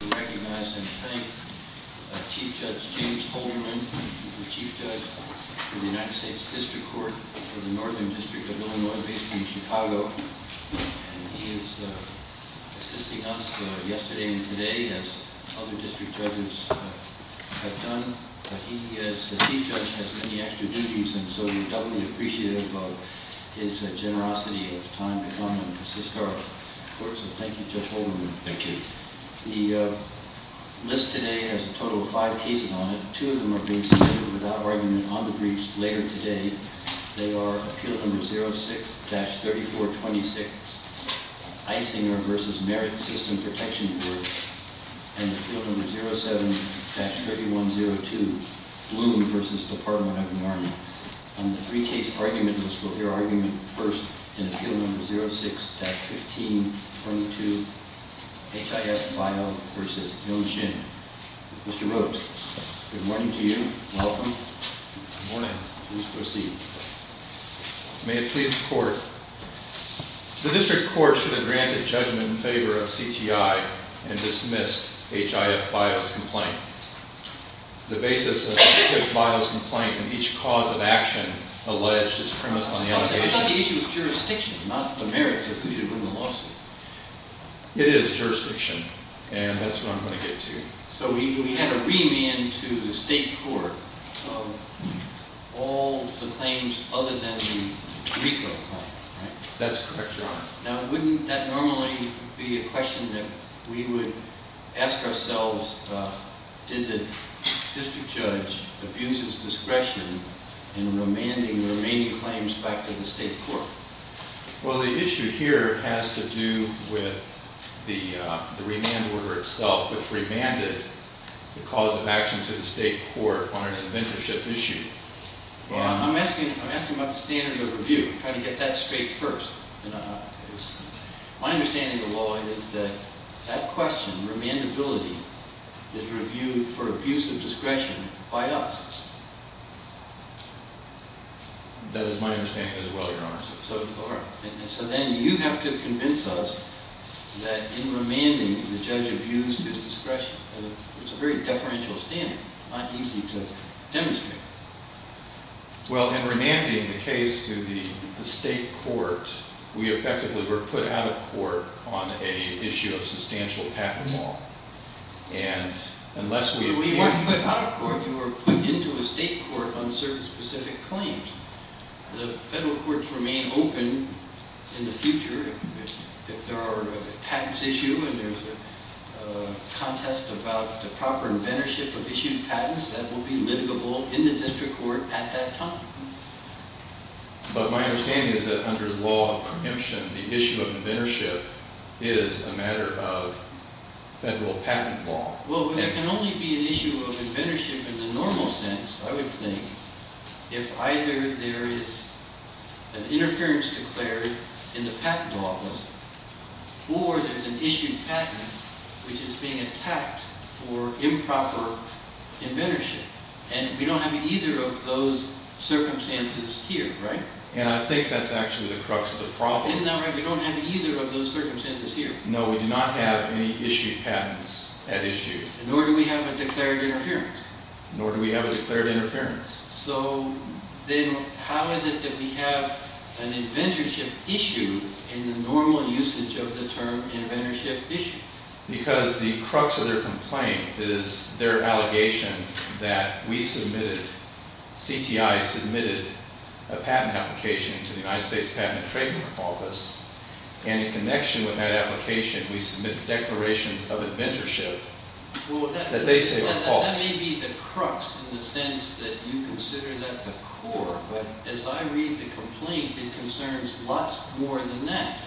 I'd like to recognize and thank Chief Judge James Holderman, the Chief Judge for the United States District Court for the Northern District of Illinois v. Chicago. He assisted us yesterday and today, as other district judges have done. He, as the Chief Judge, has many extra duties, and so he felt really appreciative of his generosity at the time, and I want to assist our courts in thanking Judge Holderman. Thank you. The list today has a total of five cases on it. Two of them are being submitted without argument on the briefs later today. They are Appeal No. 06-3426, Eisinger v. Merritt System Protection Group, and Appeal No. 07-3102, Bloom v. Department of the Army. And the three case arguments will be argued first in Appeal No. 06-1522, Hif Bio v. Yung Shin. Mr. Rhodes, good morning to you. Welcome. Good morning. Please proceed. May it please the Court. The District Court should grant a judgment in favor of CTI and dismiss Hif Bio's complaint. The basis of Hif Bio's complaint and each cause of action alleged is criminal. It's not the issue of jurisdiction. Not the merits of the lawsuit. It is jurisdiction, and that's what I'm going to get to. So we have a reunion to the State Court, so all the claims other than the brief are fine. That's correct, Your Honor. Now, wouldn't that normally be a question that we would ask ourselves? Did the District Judge abuse his discretion in remanding the remaining claims back to the State Court? Well, the issue here has to do with the remand order itself, which remanded the cause of action to the State Court on a conventionship issue. Well, I'm asking about the standard of review, trying to get that straight first. My understanding of the law is that that question, remandability, is reviewed for abuse of discretion by us. That is my understanding as well, Your Honor. So then you have to convince us that in remanding, the judge abused his discretion. It's a very deferential standard. It's not easy to demonstrate. Well, in remanding the case to the State Court, we effectively were put out of court on an issue of substantial patent law. So we weren't put out of court, we were put into a State Court on a certain specific claim. The federal courts remain open in the future. If there are patents issued and there's a contest about the proper inventorship of issued patents, that will be livable in the district court at that time. But my understanding is that under the law of convention, the issue of inventorship is a matter of federal patent law. Well, there can only be an issue of inventorship in the normal sense, I would think, if either there is an interference declared in the patent law, or there's an issued patent which is being attacked for improper inventorship. And we don't have either of those circumstances here, right? And I think that's actually the crux of the problem. In that way, we don't have either of those circumstances here. No, we do not have any issued patents at issue. Nor do we have a declared interference. Nor do we have a declared interference. So then how is it that we have an inventorship issue in the normal usage of the term inventorship issue? Because the crux of their complaint is their allegation that we submitted, CTI submitted, a patent application to the United States Patent and Trademark Office, and in connection with that application, we submit declarations of inventorship. Well, that may be the crux in the sense that you consider that the core. But as I read the complaint, it concerns lots more than that.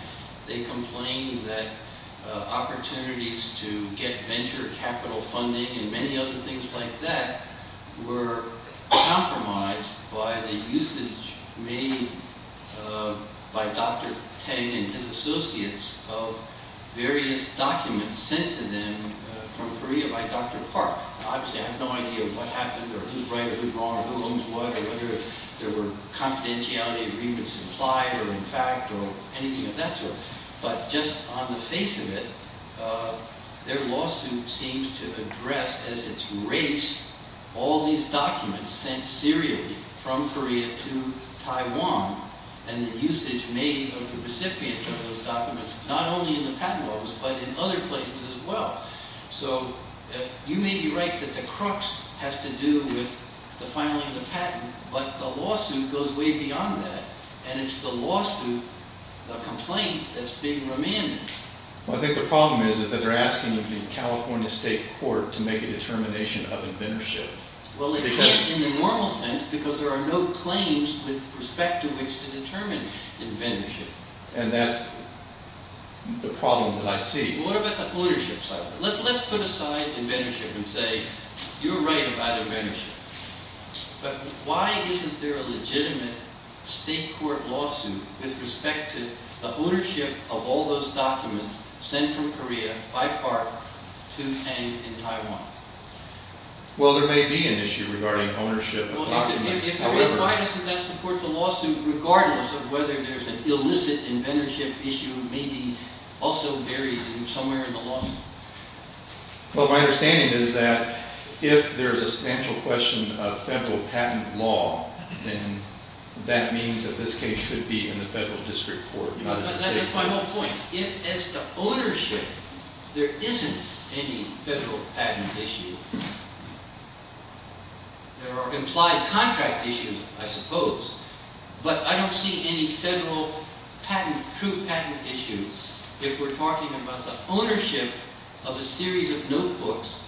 They complained that opportunities to get venture capital funding and many other things like that were compromised by the usage made by Dr. Tang and his associates of various documents sent to them from Korea by Dr. Park. Obviously, I have no idea what happened or who's right or who's wrong or who owns what or whether there were confidentiality agreements implied or in fact or anything of that sort. But just on the face of it, their lawsuit seems to address, as it's erased, all these documents sent seriously from Korea to Taiwan and the usage made of the recipient of those documents, not only in the patent office but in other places as well. So you may be right that the crux has to do with the filing of the patent, but the lawsuit goes way beyond that. And it's the lawsuit, the complaint, that's being remanded. Well, I think the problem is that they're asking the California State Court to make a determination of inventorship. Well, in the normal sense, because there are no claims with respect to which to determine inventorship. And that's the problem that I see. Let's put aside inventorship and say you're right about inventorship. But why isn't there a legitimate state court lawsuit with respect to the ownership of all those documents sent from Korea by Park to Tang in Taiwan? Well, there may be an issue regarding ownership. Why doesn't that support the lawsuit regardless of whether there's an illicit inventorship issue, maybe also buried somewhere in the lawsuit? Well, my understanding is that if there's a substantial question of federal patent law, then that means that this case should be in the federal district court. That's a final point. If it's the ownership, there isn't any federal patent issue. There are implied contract issues, I suppose. But I don't see any federal patent, true patent issues if we're talking about the ownership of a series of notebooks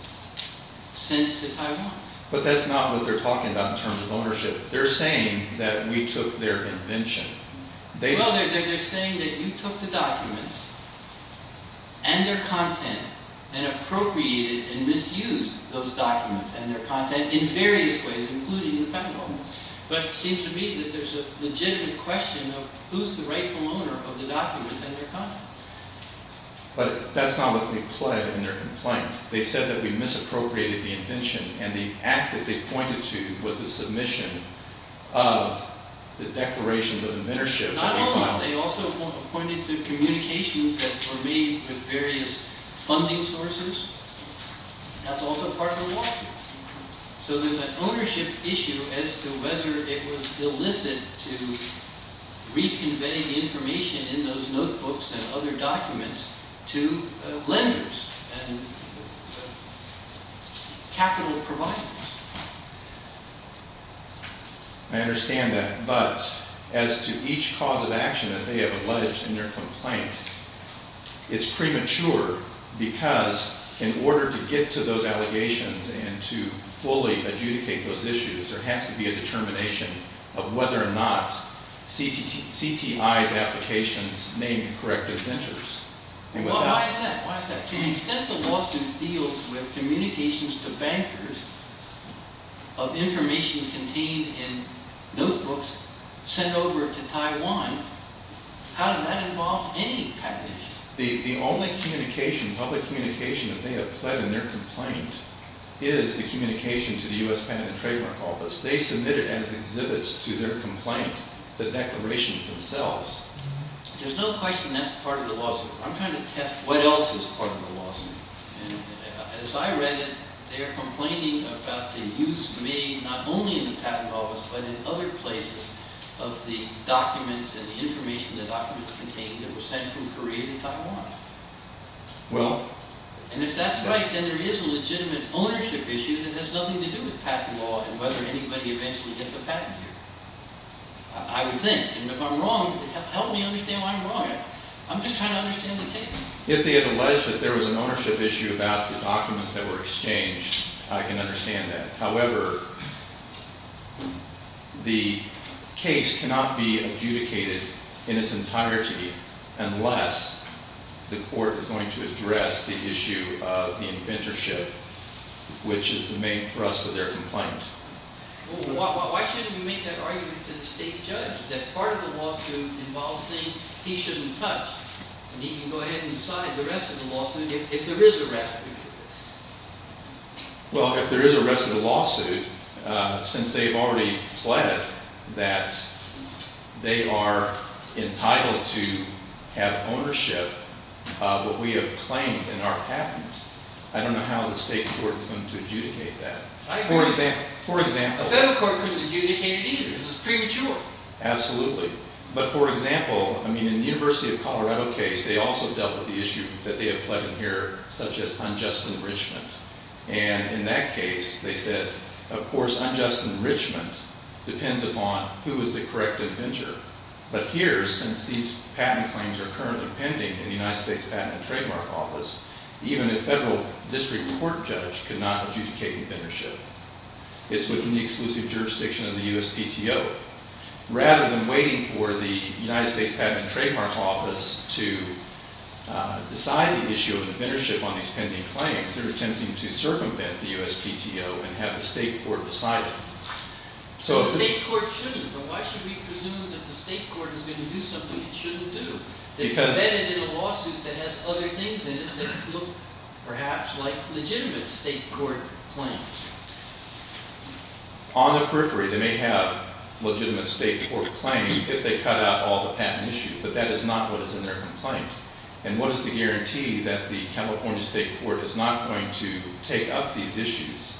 sent to Taiwan. But that's not what they're talking about in terms of ownership. They're saying that we took their invention. Well, they're saying that you took the documents and their content and appropriated and misused those documents and their content in various ways, including the federal government. But it seems to me that there's a legitimate question of who's the rightful owner of the documents and their content. But that's not what they implied in their complaint. They said that we misappropriated the invention. And the act that they pointed to was a submission of the Declaration of Inventorship. They also pointed to communications that were made with various funding sources. That's also part of the lawsuit. So there's an ownership issue as to whether it was illicit to be conveying information in those notebooks and other documents to lenders and capital providers. I understand that. But as to each cause of action that they have alleged in their complaint, it's premature because in order to get to those allegations and to fully adjudicate those issues, there has to be a determination of whether or not CTI of applications may correct its interests. Well, how is that? To the extent that Washington deals with communications to bankers of information contained in notebooks sent over to Taiwan, how does that involve any type of issue? The only communication, public communication, that they have pled in their complaint is the communication to the U.S. Bank and Trademark Office. They submit it as exhibits to their complaint, the declarations themselves. There's no question that's part of the lawsuit. I'm trying to test what else is part of the lawsuit. As I read it, they are complaining about the abuse made not only in the patent office but in other places of the documents and information the documents contained that were sent from Korea to Taiwan. And if that's right, then there is a legitimate ownership issue that has nothing to do with patent law and whether anybody eventually gets a patent here. I resent it. If I'm wrong, you can help me understand why I'm wrong. I'm just trying to understand the case. If they allege that there was an ownership issue about the documents that were exchanged, I can understand that. However, the case cannot be adjudicated in its entirety unless the court is going to address the issue of the inventorship, which is the main thrust of their complaint. Why shouldn't you make that argument to the state judge that part of the lawsuit involves things he shouldn't touch? And he can go ahead and decide the rest of the lawsuit if there is a rest of the lawsuit. Well, if there is a rest of the lawsuit, since they've already pledged that they are entitled to have ownership of what we have claimed in our patents, I don't know how the state court is going to adjudicate that. A federal court can adjudicate an issue. It's a Supreme Court. Absolutely. But, for example, in the University of Colorado case, they also dealt with the issue that they had pledged here, such as unjust enrichment. And in that case, they said, of course, unjust enrichment depends upon who is the correct inventor. But here, since these patent claims are currently pending in the United States Patent and Trademark Office, even a federal district court judge could not adjudicate inventorship. It's within the exclusive jurisdiction of the USPTO. Rather than waiting for the United States Patent and Trademark Office to decide the issue of inventorship on these pending claims, they're attempting to circumvent the USPTO and have the state court decide it. The state court shouldn't. So why should we presume that the state court is going to do something it shouldn't do? Because then it's a lawsuit that has other things in it that look, perhaps, like legitimate state court claims. On the periphery, they may have legitimate state court claims if they cut out all the patent issues, but that is not what is in their complaint. And what is the guarantee that the California state court is not going to take out these issues?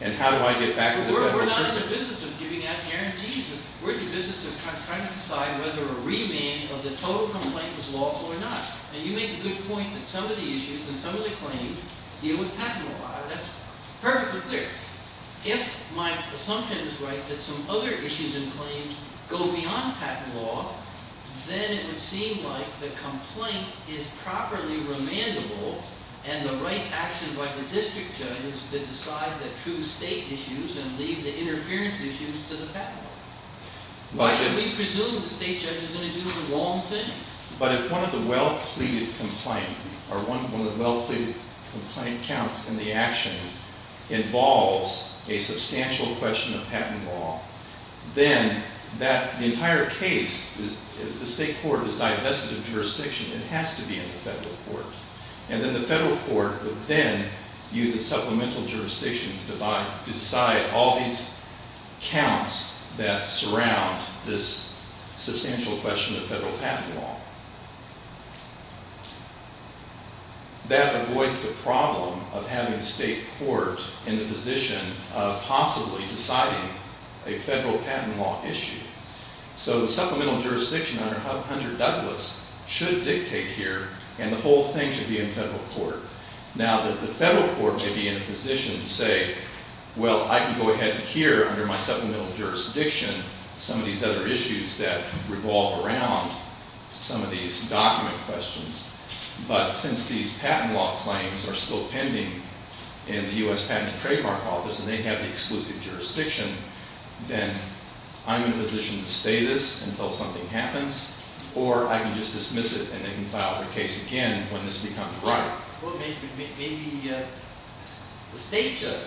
And how do I get back with the record? No, we're not in the business of giving out guarantees. We're in the business of trying to decide whether a remand of the total complaint is lawful or not. And you make a good point that some of the issues and some of the claims deal with patent law. That's perfectly clear. If my assumption is right that some other issues and claims go beyond patent law, then it would seem like the complaint is properly remandable and the right action by the district judge is to decide the true state issues and leave the interference issues to the patent law. Why should we presume the state judge is going to do the wrong thing? But if one of the well-pleaded complaints or one of the well-pleaded complaint counts in the action involves a substantial question of patent law, then the entire case, if the state court is divested of jurisdiction, it has to be in the federal court. And then the federal court would then use the supplemental jurisdiction to decide all these counts that surround this substantial question of federal patent law. That avoids the problem of having state courts in the position of possibly deciding a federal patent law issue. So the supplemental jurisdiction under Douglas should dictate here, and the whole thing should be in federal court. Now that the federal court may be in a position to say, well, I can go ahead and hear under my supplemental jurisdiction some of these other issues that revolve around some of these document questions. But since these patent law claims are still pending in the U.S. Patent and Trademark Office and they have the exclusive jurisdiction, then I'm in a position to stay this until something happens. Or I can just dismiss it and they can file their case again when this becomes right. Well, maybe the state judge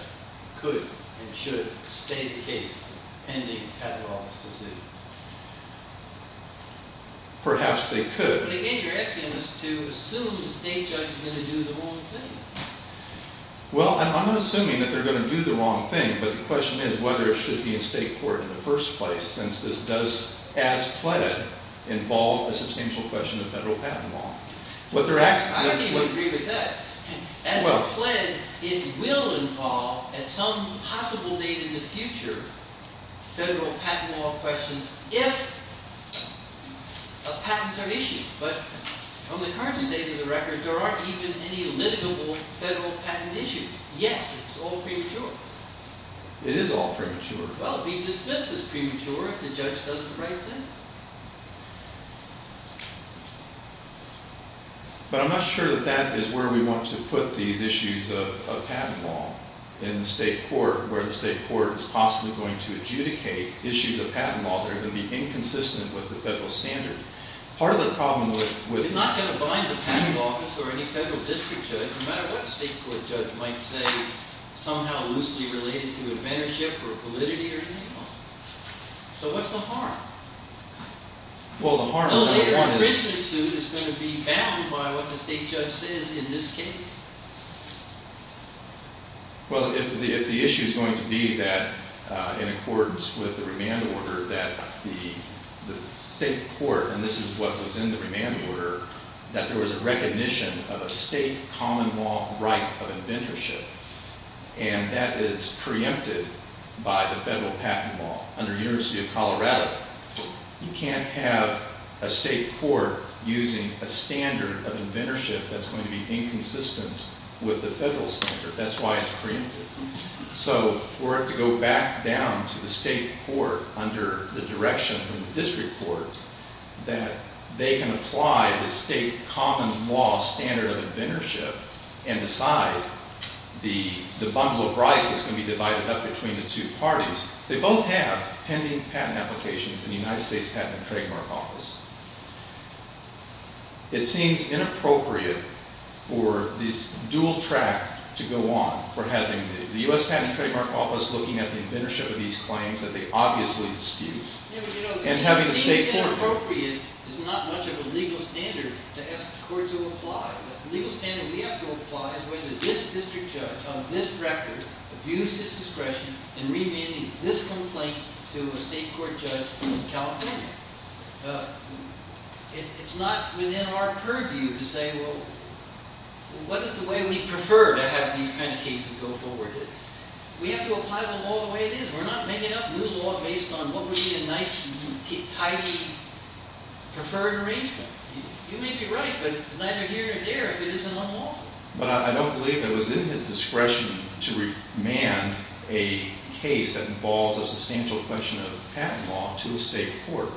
could and should stay the case pending patent law decisions. Perhaps they could. But again, you're asking us to assume the state judge is going to do the wrong thing. Well, I'm not assuming that they're going to do the wrong thing, but the question is whether it should be in state court in the first place, since it does, as pledged, involve a substantial question of federal patent law. I agree with that. As pledged, it will involve, at some possible date in the future, federal patent law questions if patents are issued. But on the current date of the record, there aren't even any limitable federal patent issues yet. It's all premature. It is all premature. Well, we've discussed this prematurely. The judge doesn't recommend it. But I'm not sure that that is where we want to put these issues of patent law in the state court, where the state court is possibly going to adjudicate issues of patent law that are going to be inconsistent with the federal standard. Part of the problem with- They're not going to find the patent law before any federal district judge, no matter what the state court judge might say, somehow loosely related to advantage or validity or anything. So what's the harm? Well, the harm is- Well, if a district suit is going to be backed by what the state judge says in this case? Well, if the issue is going to be that, in accordance with the remand order, that the state court, and this is what was in the remand order, that there was a recognition of a state common law right of inventorship, and that is preempted by the federal patent law under the University of Colorado, you can't have a state court using a standard of inventorship that's going to be inconsistent with the federal standard. That's why it's preempted. So we're going to have to go back down to the state court under the direction of the district court, that they can apply the state common law standard of inventorship and decide the bundle of rights that's going to be divided up between the two parties. They both have pending patent applications in the United States Patent and Trademark Office. It seems inappropriate for this dual track to go on for having the U.S. Patent and Trademark Office looking at the inventorship of these claims that they obviously dispute, and having the state court- It's not within our purview to say, well, what is the way we prefer to have these kinds of cases go forward? We have to apply the law the way it is. We're not making up new law based on what we in nice and tidy preferred arrangement. You may be right, but the latter here and there, it isn't the law. But I don't believe it was in his discretion to remand a case that involved a substantial question of patent law to a state court,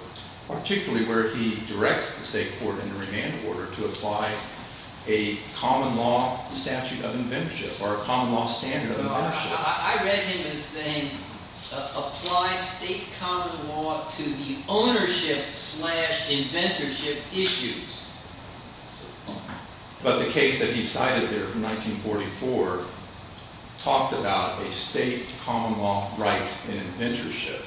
particularly where he directs the state court in a remand order to apply a common law statute of inventorship or a common law standard of invention. I read him as saying, apply state common law to the ownership slash inventorship issues. But the case that he cited there in 1944 talked about a state common law right in inventorship.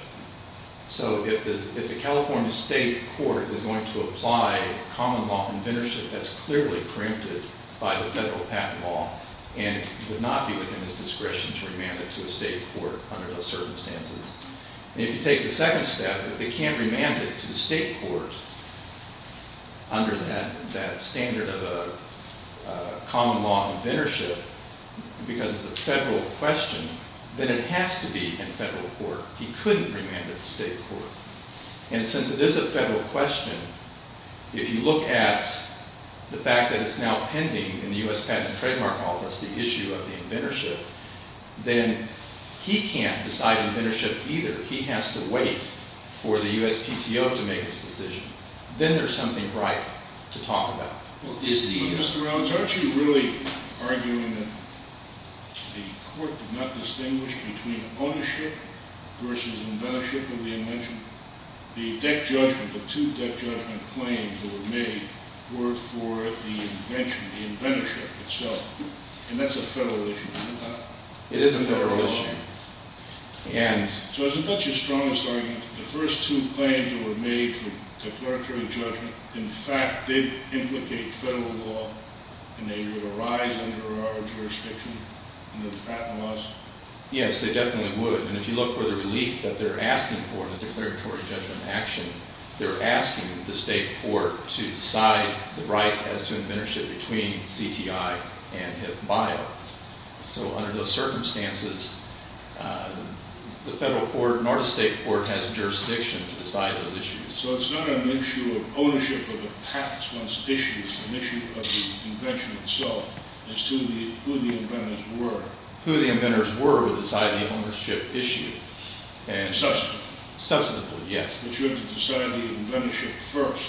So if the California state court is going to apply common law inventorship, that's clearly preemptive by the federal patent law, and it would not be within his discretion to remand it to a state court under those circumstances. If you take the second step, if they can't remand it to the state court under that standard of common law inventorship because it's a federal question, then it has to be in federal court. He couldn't remand it to state court. And since it is a federal question, if you look at the fact that it's now pending in the U.S. Patent and Trademark Office the issue of inventorship, then he can't decide inventorship either. He has to wait for the U.S. TTO to make a decision. Then there's something right to talk about. He's actually really arguing that the court did not distinguish between ownership versus inventorship or the inventorship. The deck judgment, the two deck judgment claims that were made were for the invention, the inventorship itself. And that's a federal issue. It is a federal issue. So there's a bunch of strong arguments. The first two claims that were made for declaratory judgment, in fact, did implicate federal law, and they would arise under our jurisdiction under the patent laws? Yes, they definitely would. And if you look for the relief that they're asking for with the declaratory judgment action, they're asking the state court to decide the right as to inventorship between CTI and his buyer. So under those circumstances, the federal court and our state court has jurisdiction to decide those issues. So it's not going to make sure that ownership of the patent is an issue. It's an issue of the invention itself. It's who the inventors were. Who the inventors were will decide the ownership issue. Substantively. Substantively, yes. But you have to decide the inventorship first.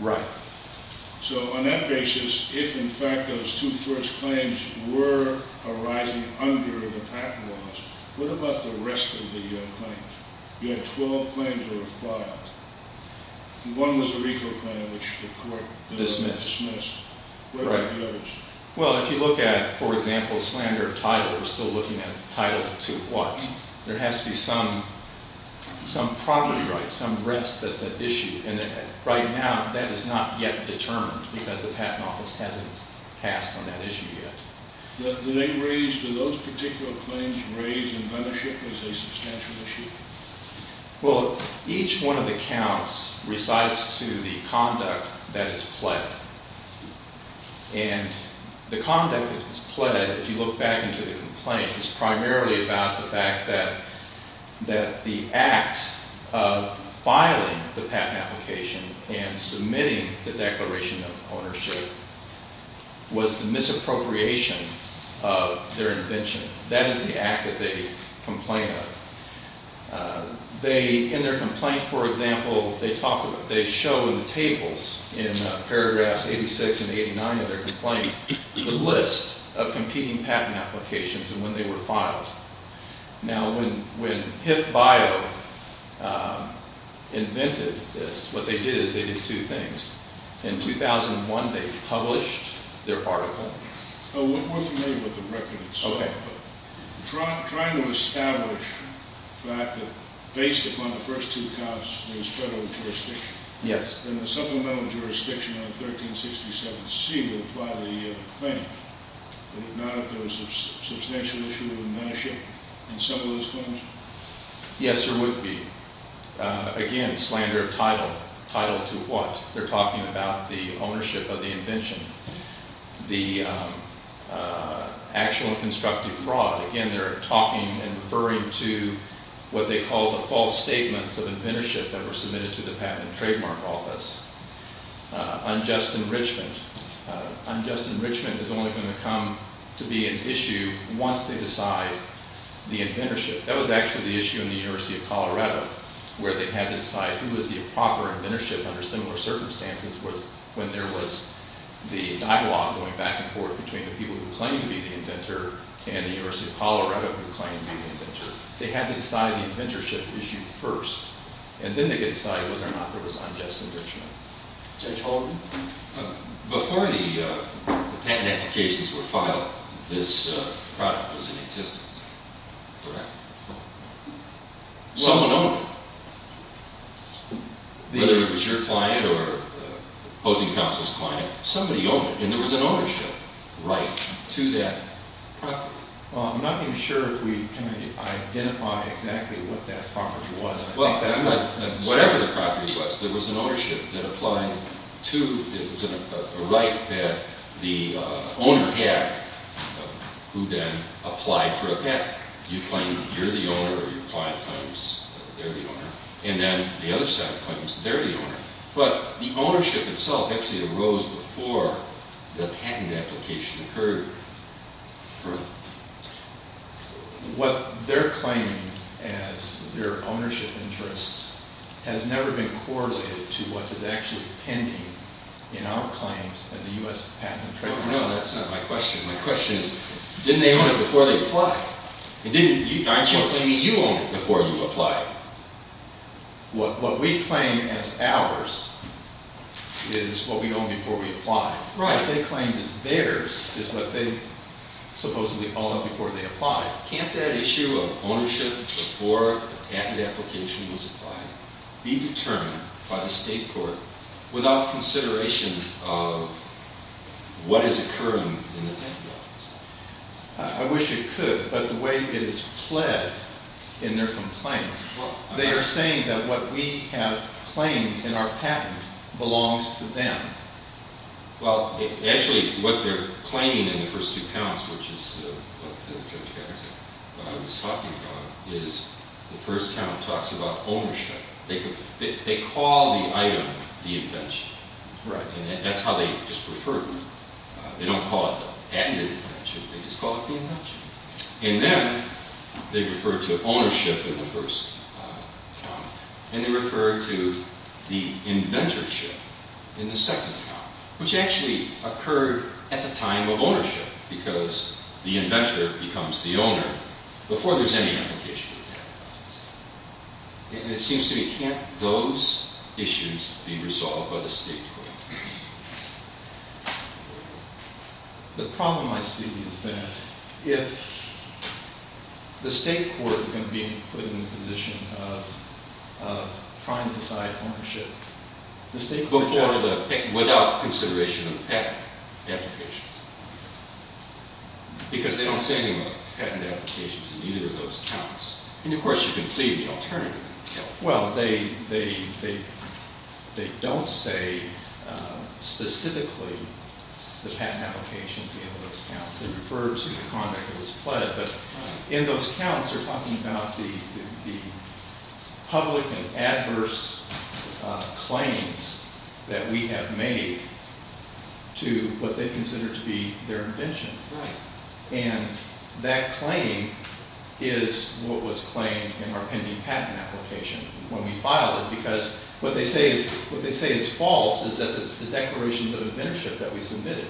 Right. So on that basis, if, in fact, those two first claims were arising under the patent laws, what about the rest of the claims? You had 12 claims that were filed. One was the referral claim, which the court dismissed. Dismissed. Right. Well, if you look at, for example, slander of Tyler, we're still looking at Tyler 2. There has to be some property rights, some rest of the issue. And right now, that is not yet determined because the patent office hasn't passed on that issue yet. Do they raise, do those particular claims raise inventorship as a substantial issue? Well, each one of the counts resides to the conduct that is pledged. And the conduct that is pledged, if you look back into the complaints, is primarily about the fact that the act of filing the patent application and submitting the declaration of ownership was the misappropriation of their invention. That is the act that they complain of. They, in their complaint, for example, they talk about, they show the tables in paragraph 86 and 89 of their complaint, the list of competing patent applications and when they were filed. Now, when HIP FILE invented this, what they did is they did two things. In 2001, they published their article. Oh, we're more familiar with the record. Okay. Trying to establish that based upon the first two counts, there's federal jurisdiction. Yes. And the supplemental jurisdiction on 1367C would apply to the claim that now there's a substantial issue with ownership in some of those claims. Yes, there would be. Again, slander of Tyler, Tyler 2 was. They're talking about the ownership of the invention. The actual constructive fraud. Again, they're talking and referring to what they call a false statement of inventorship that was submitted to the patent trademark office. Unjust enrichment. Unjust enrichment is only going to come to be an issue once they decide the inventorship. That was actually the issue in the University of Colorado where they had to decide who was the proper inventorship under similar circumstances when there was the dialogue going back and forth between the people who were claiming to be the inventor and the University of Colorado who were claiming to be the inventor. They had to decide the inventorship issue first. And then they could decide whether or not there was unjust enrichment. Judge Holdren? Before the patent applications were filed, this patent was in existence. Okay. Someone owned it. Either it was your client or the opposing counsel's client. Somebody owned it. And there was an ownership right to that property. I'm not even sure if we can identify exactly what that property was. Whatever the property was, there was an ownership that applied to the right that the owner had who then applied for a patent. You claim you're the owner or your client claims they're the owner. And then the other side claims they're the owner. But the ownership itself actually arose before the patent application occurred. Correct. What they're claiming as their ownership interest has never been correlated to what is actually pending in our claims in the U.S. Patent and Trademark Act. No, that's not my question. My question is, didn't they own it before they applied? I'm not claiming you owned it before you applied. What we claim as ours is what we owned before we applied. Right. What they claim is theirs is what they supposedly owned before they applied. Can't that issue of ownership before the patent application was applied be determined by the state court without consideration of what is occurring in the patent office? I wish it could, but the way it is pled in their complaint, they are saying that what we have claimed in our patent belongs to them. Well, actually, what they're claiming in the first two counts, which is what we're talking about, is the first count talks about ownership. They call the item the invention. Right. And that's how they refer to it. They don't call it an invention. They just call it the invention. And then they refer to ownership in the first count. And they refer to the inventorship in the second count, which actually occurred at the time of ownership, because the inventor becomes the owner before there's any application to the patent office. And it seems to me, can't those issues be resolved by the state court? The problem, I believe, is that if the state court is going to be put in the position of trying to decide ownership, the state court can't do that without consideration of the patent application. Because they don't say anything about patent applications in either of those counts. And, of course, you can say the alternative. Well, they don't say specifically the patent application in either of those counts. It refers to the conduct that was pledged. But in those counts, they're talking about the public and adverse claims that we have made to what they consider to be their invention. And that claim is what was claimed in our pending patent application when we filed it. Because what they say is false is that it's declarations of inventorship that we submitted.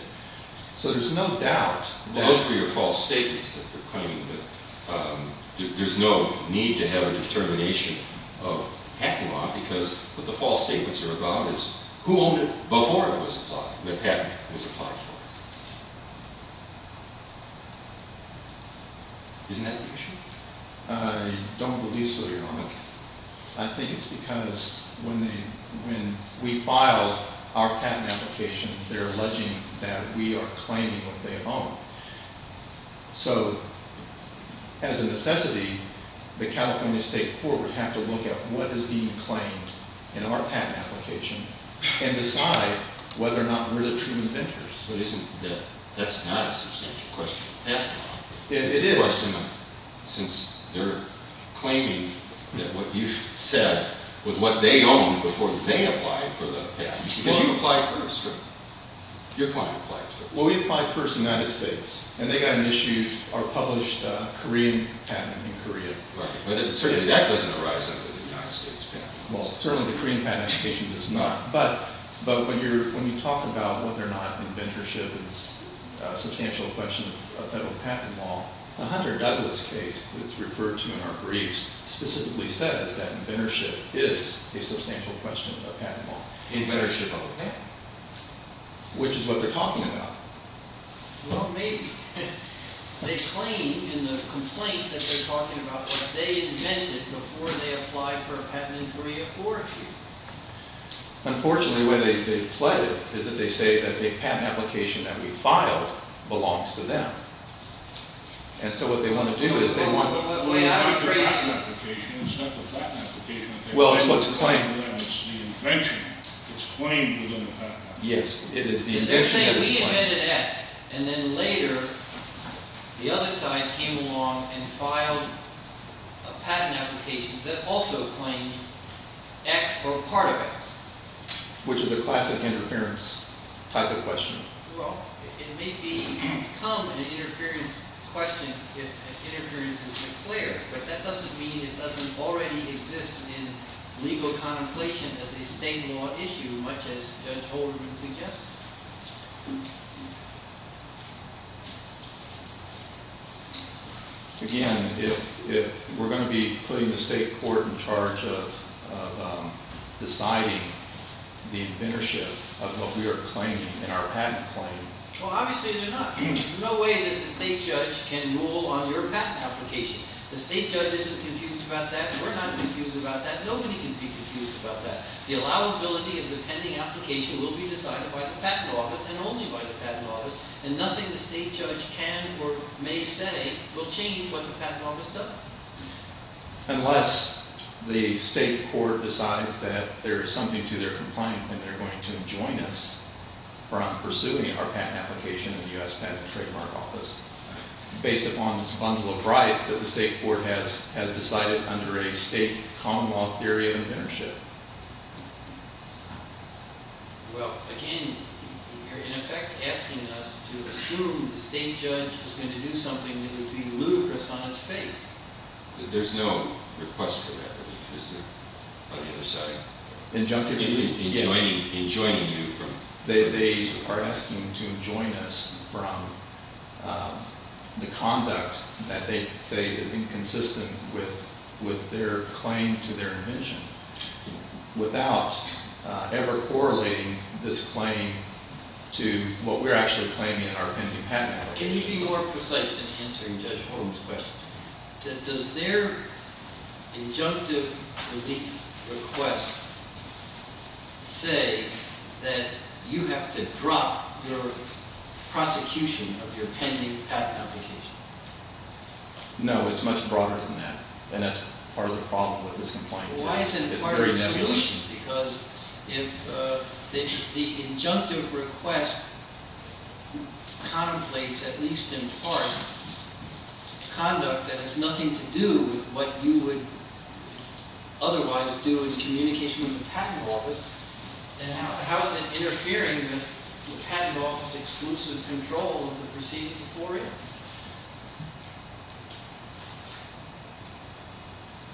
So there's no doubt. Those are your false statements that they're coming with. There's no need to have a determination of patent law, because what the false statements are about is who owned it before it was applied, the patent was applied for. Isn't that the truth? I don't believe so, Your Honor. I think it's because when we filed our patent application, they're alleging that we are claiming what they own. So, as a necessity, the California State Court would have to look at what is being claimed in our patent application and decide whether or not we're the true inventors. That's not a substantial question to ask. It is. Since they're claiming that what you said was what they owned before they applied for the patent. Well, we applied first, Your Honor. Your client applied first. Well, we applied first to the United States. And they got an issue, our published Korean patent in Korea. But that wasn't the rise of the United States patent. Well, certainly the Korean patent application does not. But when you talk about whether or not inventorship is a substantial question of patent law, Hunter Douglas' case that's referred to in our briefs specifically says that inventorship is a substantial question of patent law. Inventorship of a patent. Which is what they're talking about. Well, maybe. They claim in the complaint that they're talking about that they invented before they applied for a patent in 2004, too. Unfortunately, what they've pledged is that they say that the patent application that we filed belongs to them. And so what they want to do is they want to look at the patent application and say, well, what's that? Yes. They're saying we invented X. And then later, the other side came along and filed a patent application that also claims X were part of it. Which is a class of interference type of question. Well, it may be common to interfere in questions if interference is declared. But that doesn't mean it doesn't already exist in legal contemplation of the state law issue much as older people think it does. Again, if we're going to be putting the state court in charge of deciding the inventorship of what we are claiming in our patent claim. Well, obviously, there's no way that the state judge can rule on your patent application. The state judge isn't confused about that. We're not confused about that. Nobody can be confused about that. The allowability of the pending application will be decided by the patent office and only by the patent office. And nothing the state judge can or may say will change what the patent office does. Unless the state court decides that there is something to their complaint when they're going to join us from pursuing our patent application in the U.S. Patent and Trademark Office. Based upon this fundamental right that the state court has decided under a state common law theory of inventorship. Well, again, you're in effect asking us to assume that the state judge is going to do something that would be rude for someone's faith. There's no request for that. On the other side. Injunctive. In joining you. They are asking to join us from the context that they are inconsistent with their claim to their invention without ever correlating this claim to what we're actually claiming in our pending patent application. Does their injunctive request say that you have to drop your prosecution of your pending patent application? No, it's much broader than that. And that's part of the problem at this point. Why isn't it part of the solution? Because if the injunctive request contemplates, at least in part, conduct that has nothing to do with what you would otherwise do in communication with the patent office, then how is it interfering with the patent office's exclusive control of the proceedings for you?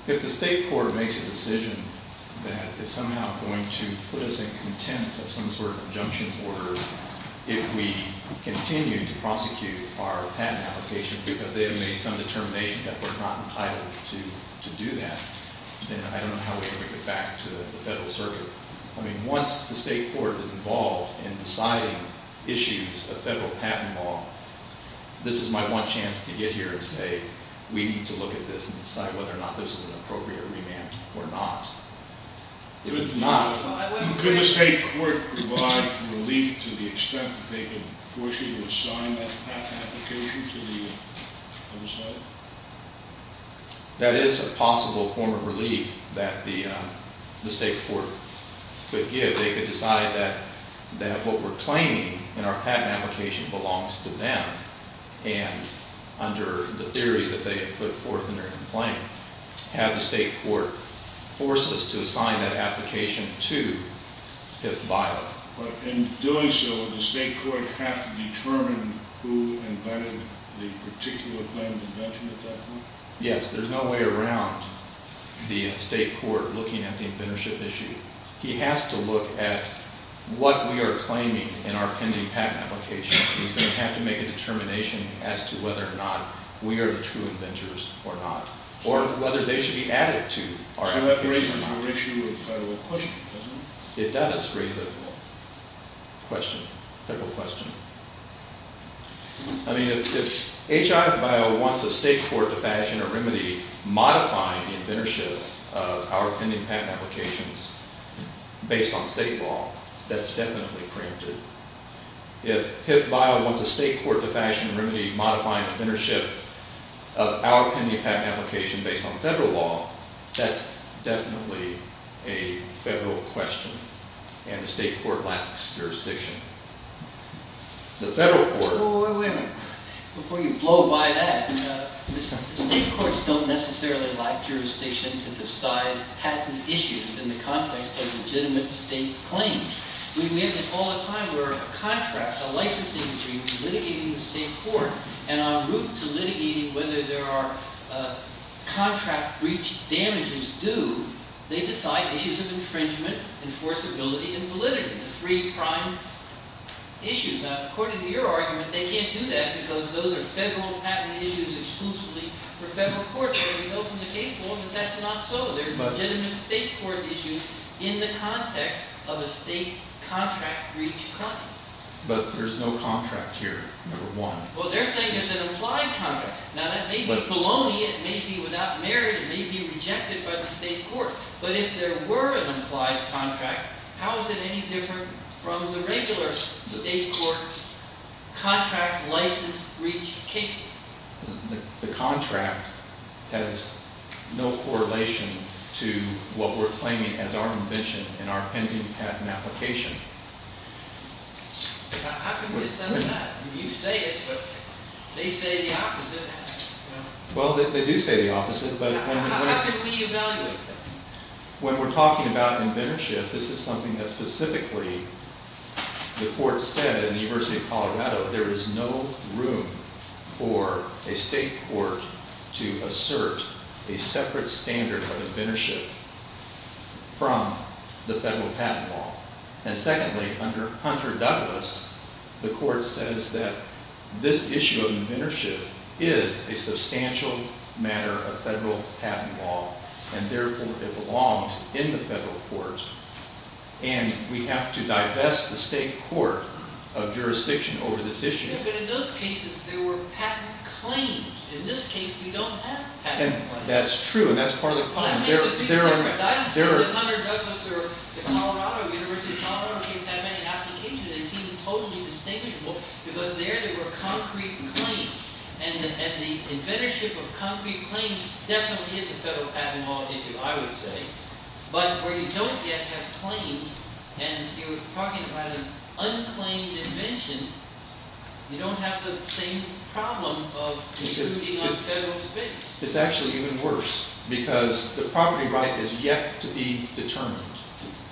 If the state court makes a decision that it's somehow going to put us in contempt of some sort of injunction order, if we continue to prosecute our patent application because they have made some determination that we're not entitled to do that, then I don't know how we're going to get back to the federal circuit. I mean, once the state court is involved in deciding issues of federal patent law, this is my one chance to get here and say, we need to look at this and decide whether or not this is an appropriate remand or not. Could the state court provide relief to the extent that they can force you to sign that patent application? That is a possible form of relief that the state court could give. They could decide that what we're claiming in our patent application belongs to them, and under the theory that they could put forth in their complaint, have the state court force us to sign that application to tip violence. In doing so, does the state court have to determine who invented the particular kind of invention that that was? Yes, there's no way around the state court looking at the inventorship issue. He has to look at what we are claiming in our pending patent application, and he's going to have to make a determination as to whether or not we are the true inventors or not, or whether they should be added to our patent application. If that's a straightforward question, I mean, if H.I. vio wants a state court to fashion a remedy modifying the inventorship of our pending patent applications based on state law, that's definitely a crime too. If H.I. vio wants a state court to fashion a remedy modifying the inventorship of our pending patent application based on federal law, that's definitely a federal question, and the state court lacks jurisdiction. The federal court... Before you blow by that, the state courts don't necessarily lack jurisdiction to decide patent issues in the context of legitimate state claims. We get this all the time where a contract, a licensee, should be litigated in the state court, and on route to litigating whether there are contract breach damages due, they decide issues of infringement, enforceability, and validity. Three prime issues. Now, according to your argument, they can't do that because those are federal patent issues exclusively for federal courts. But that's not so. There's legitimate state court issues in the context of a state contract breach crime. But there's no contract here, number one. Well, they're saying there's an implied contract. Now, that may be baloney, it may be without merit, it may be rejected by the state court. But if there were an implied contract, how is it any different from the regular state court contract license breach case? The contract has no correlation to what we're claiming as our invention and our pending patent application. I can get some of that. You say it, but they say the opposite. Well, they do say the opposite, but... How is it the opposite? When we're talking about inventorship, this is something that specifically the court said in the University of Colorado, there is no room for a state court to assert a separate standard of inventorship from the federal patent law. And secondly, under Hunter Douglas, the court says that this issue of inventorship is a substantial matter of federal patent law, and therefore it belongs in the federal court. And we have to divest the state court of jurisdiction over this issue. But in those cases, there were patent claims. In this case, we don't have patent claims. That's true, and that's part of the problem. If Hunter Douglas were at the Colorado University of Colorado, he'd have a patent application, and he'd be totally disdainful, because there, there were concrete claims. And the inventorship of concrete claims definitely didn't go patent law into, I would say. But where you don't yet have claims, and you're talking about an unclaimed invention, you don't have the same problem of excluding a federal expense. It's actually even worse, because the property right is yet to be determined,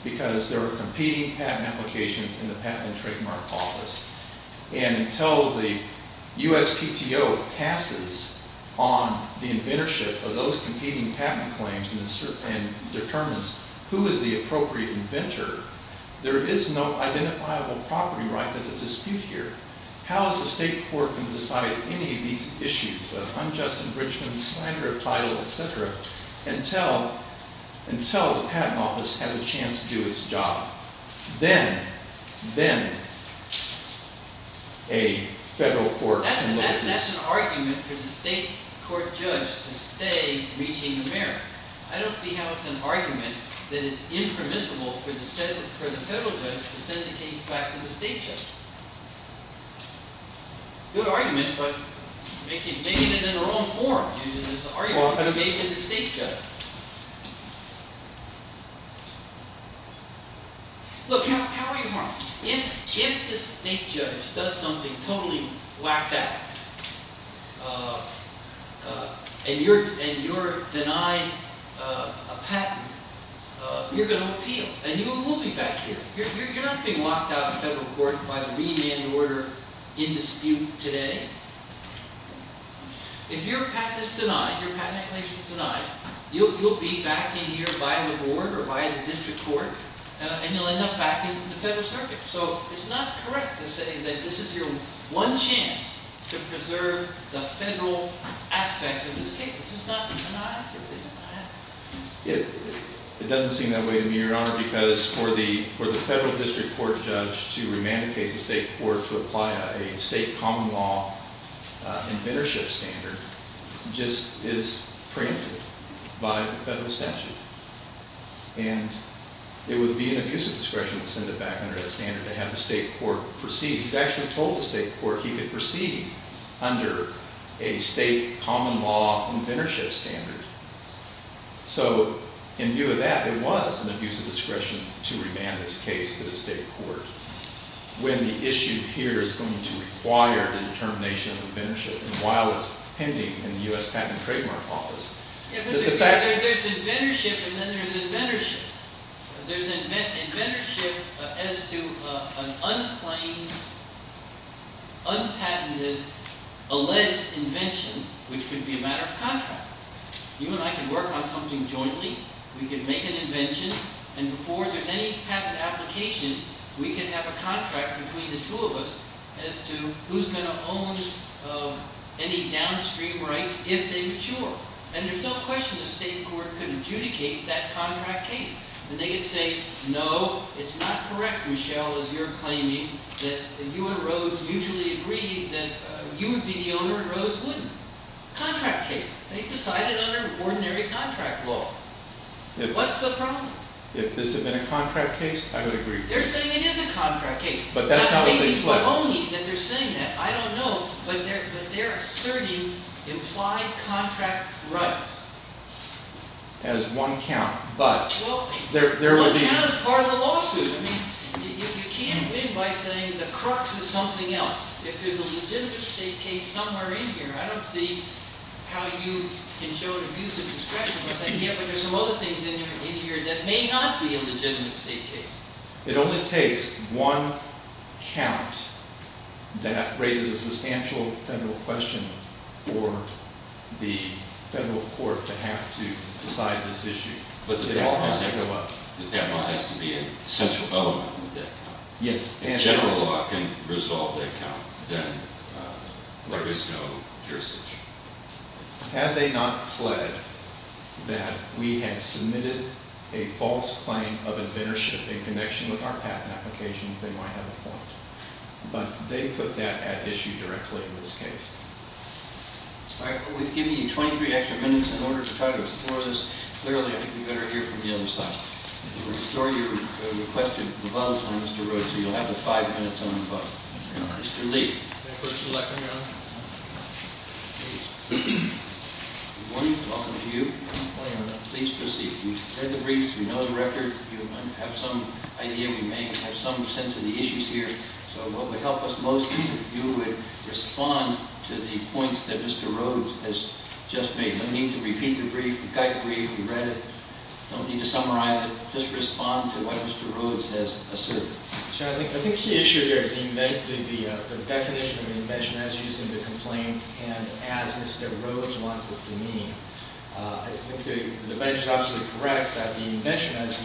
because there were competing patent applications in the Patent and Trademark Office. And until the USPTO passes on the inventorship of those competing patent claims and determines who is the appropriate inventor, there is no identifiable property right for the dispute here. How is the state court going to decide any of these issues of unjust infringement, slander, title, etc., until the Patent Office has a chance to do its job? Then, then, a federal court... That's an argument for the state court judge to say, we need merit. I don't see how it's an argument that it's impermissible for the federal judge to dedicate the fact to the state judge. It's a good argument, but maybe they're in the wrong forum. Maybe it's an argument for the state judge. Look, how are you harmed? If the state judge does something totally black-out, and you're denied a patent, you're going to appeal, and you will be back here. You're not going to be locked out of a federal court by the remand order in dispute today. If your patent is denied, your patent application is denied, you'll be back in here by the board or by the district court, and you'll end up back in the federal circuit. So, it's not correct to say that this is your one chance to preserve the federal aspect of the state. It's not the United States. It doesn't seem that way to me, Your Honor, because for the federal district court judge to remandicate the state court to apply a state common law inventorship standard just is preempted by the federal statute. And it would be an abuse of discretion to send it back under that standard to have the state court proceed. He actually told the state court he could proceed under a state common law inventorship standard. So, in view of that, it was an abuse of discretion to remand this case to the state court. When the issue here is going to require the determination of inventorship, while it's pending in the U.S. Patent and Trademark Office. There's inventorship, and then there's inventorship. There's inventorship as to an unplanned, unpatented alleged invention, which could be a matter of contract. You and I can work on something jointly. We can make an invention, and before there's any patent application, we can have a contract between the two of us as to who's going to own any downstream rights if they mature. And there's no question the state court can adjudicate that contract case. And they can say, no, it's not correct, Michelle, as you're claiming, that you and Rose mutually agree that you would be the owner and Rose wouldn't. Contract case. They decided under ordinary contract law. What's the problem? If this had been a contract case, I would agree. They're saying it is a contract case. Maybe it's not only that they're saying that. I don't know. But they're asserting implied contract rights as one count. This is part of the lawsuit. You can't win by saying the crux is something else. If there's a legitimate state case somewhere in here, I don't see how you can show abuse of discretion. But there's a lot of things in here that may not be a legitimate state case. It only takes one count that raises a substantial federal question for the federal court to have to decide this issue. But it all has to go up. It all has to be a central element. Yes. If a general law can resolve that count, then there is no jurisdiction. Had they not pledged that we had submitted a false claim of admonishment in connection with our patent application, they might not have performed it. But they put that at issue directly in this case. We've given you 23 extra minutes in order to try to explore this clearly. You better hear it from the other side. We'll restore your request and promote it onto the road so you'll have the five minutes on the bus. Mr. Lee. First of all, good morning. Welcome to you. Please proceed. We've read the brief. We know the record. We have some sense of the issues here. So what would help us most is if you would respond to the points that Mr. Rhodes has just made. No need to repeat the brief. We've got the brief. We've read it. No need to summarize it. Just respond to what Mr. Rhodes has asserted. I think the issue here is the definition of the invention as used in the complaint and as Mr. Rhodes wants it to mean. I think the benchmarks are correct that the invention as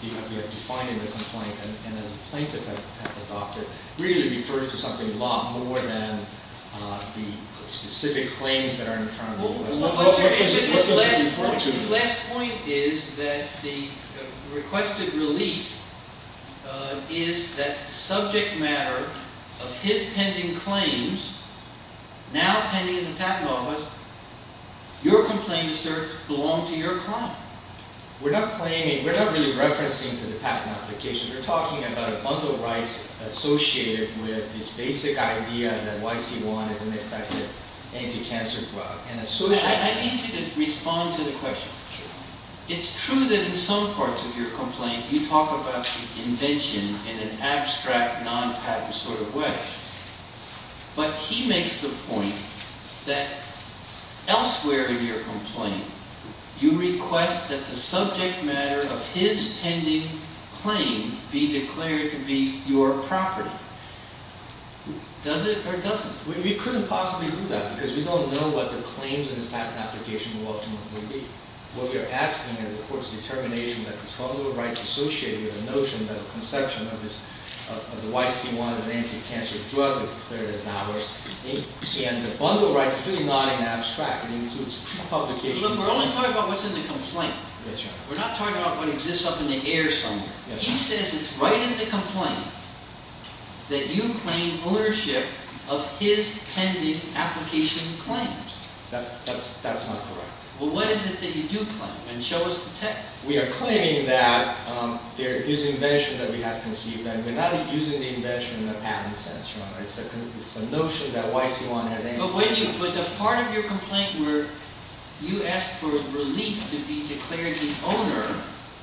defined in the complaint and the complaint that the doctor really refers to something a lot more than the specific claim that are in front of you. The last point is that the requested relief is that subject matter of his pending claims now pending in the patent office. Your complaint, sir, belongs to your client. We're not really referencing to the patent application. We're talking about a bundle of rights associated with this basic idea that YC1 is an effective anti-cancer drug. So I think it responds to the question. It's true that in some parts of your complaint you talk about the invention in an abstract, non-patent sort of way. But he makes the point that elsewhere in your complaint you request that the subject matter of his pending claim be declared to be your property. Does it or doesn't? You couldn't possibly do that because you don't know what the claims in the patent application will ultimately be. What you're asking is, of course, determination of these bundle of rights associated with the notion that the conception of the YC1 as an anti-cancer drug was declared in that way. You see, on the bundle of rights, it's really not an abstract. It includes two publications. We're only talking about what's in the complaint. We're not talking about what exists up in the air somewhere. He says it's right in the complaint that you claim ownership of his pending application claims. That's not correct. Well, what is it that you do claim? And show us the text. We are claiming that there is invention that we have conceived. And we're not using the invention in a patent sense. It's the notion that YC1 had anything to do with it. But the part of your complaint where you ask for relief to be declared the owner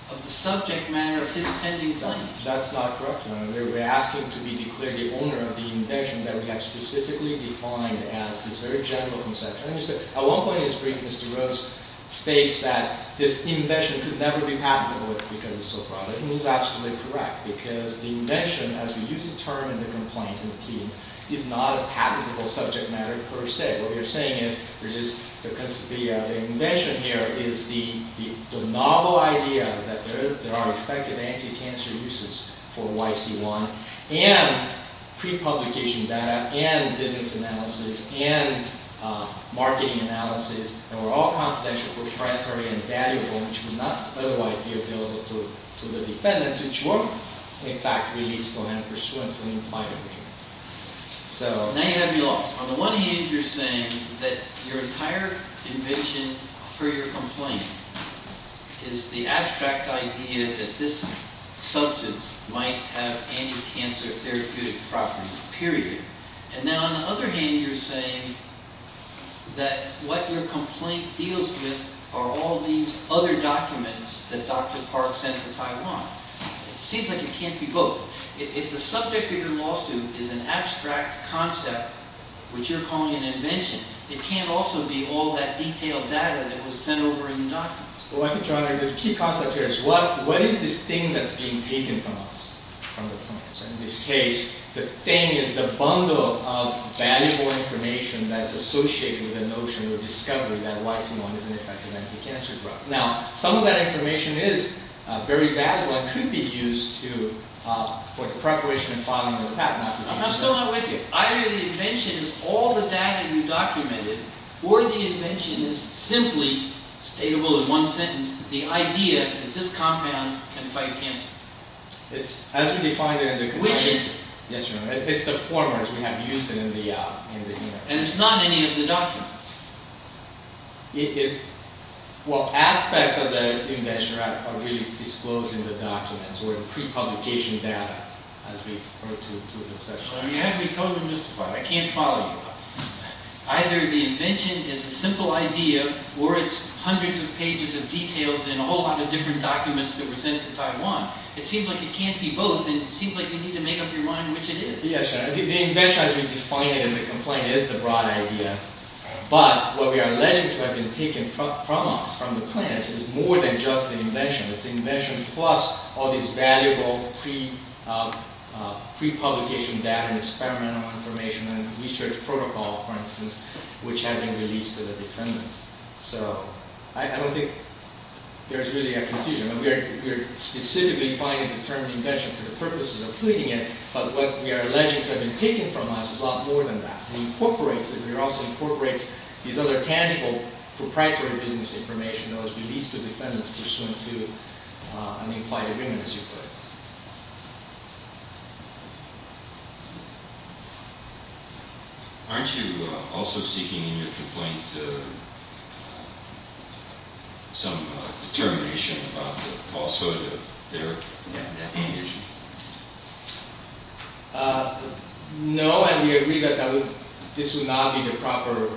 of the subject matter of his pending claim. That's not correct. We're asking to be declared the owner of the invention that we have specifically defined as his very general conception. At one point in his brief, Mr. Rose states that the invention could never be patentable because it's so private. And he's absolutely correct. Because the invention, as we use the term in the complaint from the team, did not patentable subject matter per se. What we're saying is the invention here is the novel idea that there are effective anti-cancer uses for YC1. And pre-publication data, and evidence analysis, and marketing analysis are all confidential. They're primary and valuable. And should not otherwise be appealed to the defendants, which won't take back relief when I'm pursuant to an implied agreement. So now you have your loss. On the one hand, you're saying that your entire invention for your complaint is the abstract idea that this substance might have anti-cancer therapeutic properties, period. And now on the other hand, you're saying that what your complaint deals with are all these other documents that Dr. Park sent to Taiwan. It seems like it can't be both. If the subject of your lawsuit is an abstract concept, which you're calling an invention, it can't also be all that detailed data that was sent over in your documents. Well, I think, John, the key concept here is what is this thing that's being taken from us? In this case, the thing is a bundle of valuable information that is associated with the notion of discovery that YC1 is an effective anti-cancer drug. Now, some of that information is very valuable and could be used for the preparation and filing of a patent. I'm still not with you. Either the invention is all the data we documented, or the invention is simply, able in one sentence, the idea that this compound can fight cancer. It's as we define it as a quiz. Yes, Your Honor. It's the format we have used in the invention. And it's not any of the doctrine. It is what aspects of the invention are really disclosed in the doctrine, and sort of pre-publication data as we refer to it in this section. Well, you have to be told in this part. I can't follow you. Either the invention is a simple idea, or it's hundreds of pages of details in a whole lot of different documents that were sent to Taiwan. It seems like it can't be both. It seems like you need to make up your mind which it is. Yes, Your Honor. The invention, as we define it and we complain, is the broad idea. But what we are alleging to have been taken from us, from the plants, is more than just the invention. It's the invention plus all these valuable pre-publication data and experimental information and research protocols, for instance, which have been released to the defendants. So I don't think there's really a confusion. We're specifically defining the term invention for the purposes of tweeting it. But what we are alleging to have been taken from us is a lot more than that. We incorporate it. We also incorporate these other tangible, proprietary to this information that has been released to defendants. We just want to unify it in a new way. Aren't you also seeking in your complaint some determination about it also that there may have been an invention? No, I would agree that this would not be the proper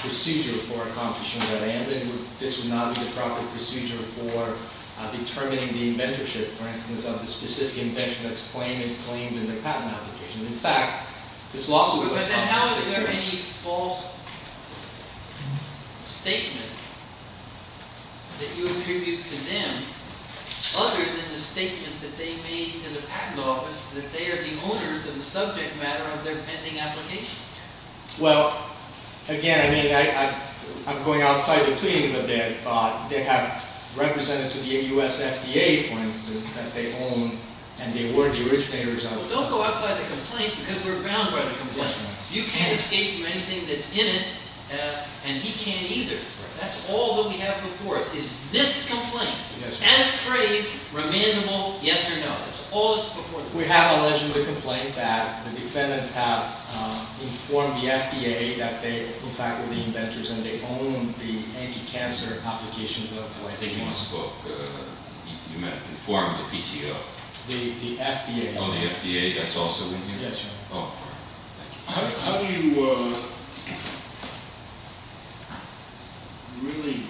procedure for accomplishing what I am doing. This is not the proper procedure for determining the inventorship, for instance, of the specific invention that's claimed and claimed in the patent application. In fact, this law is a good one. But how is there any false statement that you have introduced to them other than the statement that they made to the Patent Office that they are the owners and subject matter of their pending application? Well, again, I mean, I'm going outside the feeding of it. They have representatives of the USFDA, for instance, that they own. And they were Jewish. They resided there. Well, don't go outside the complaint because we're bound by the complaint. You can't escape from anything that's in it. And he can't either. That's all that we have to report is this complaint. Yes. Can it trade for a minimal yes or no? That's all that's reported. We have allegedly a complaint that the defendant have informed the FDA that they, in fact, were the inventors. And they own the anti-cancer complications of what they did. They must have informed the PTO. The FDA. Oh, the FDA. That's also in here? Yes, sir. How do you really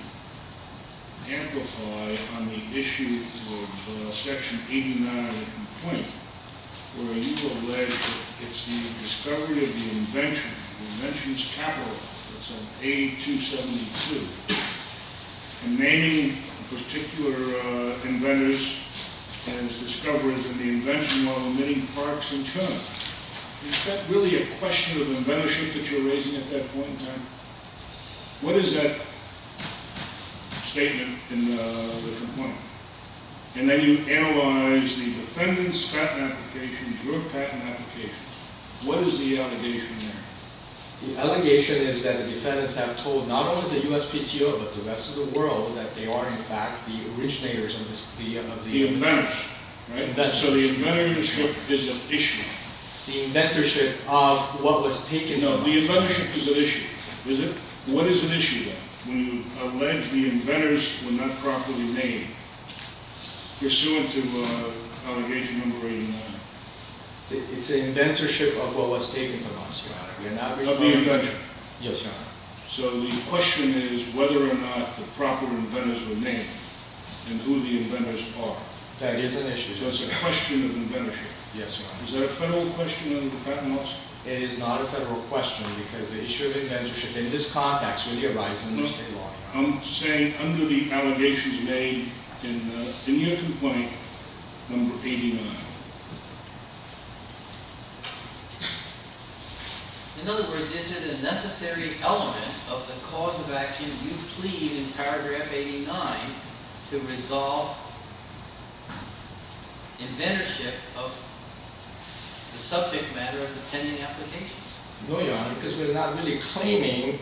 amplify on the issue of Section 89 of the complaint where you alleged that it's the discovery of the invention, the invention's capital. It's on page 272. The name of a particular inventor has discovered that the invention model many parts in turn. Is that really a question of inventorship that you're raising at that point in time? What is that statement in the complaint? And then you analyze the defendant's patent application, your patent application. What is the allegation there? The allegation is that the defendants have told not only the US PTO, but the rest of the world that they are, in fact, the originators of the invention. The inventors. Right? So the inventorship is an issue. The inventorship of what was taken over. The inventorship is an issue. Is it? What is an issue then? When you allege the inventors were not properly named, pursuant to allegation number 89. It's an inventorship of what was taken from us. Not the invention. Yes, sir. So the question is whether or not the proper inventors were named, and who the inventors are. That is an issue. It's a question of inventorship. Yes, sir. Is that a federal question on the patent lawsuit? It is not a federal question. It's true inventorship. It is part, actually, of your right to investigate law. No, I'm saying under the allegation made in the initial point, number 89. In other words, is it a necessary element of the cause of action you plead in paragraph 89 to resolve inventorship of subject matter of the pending application? No, Your Honor, because we're not really claiming,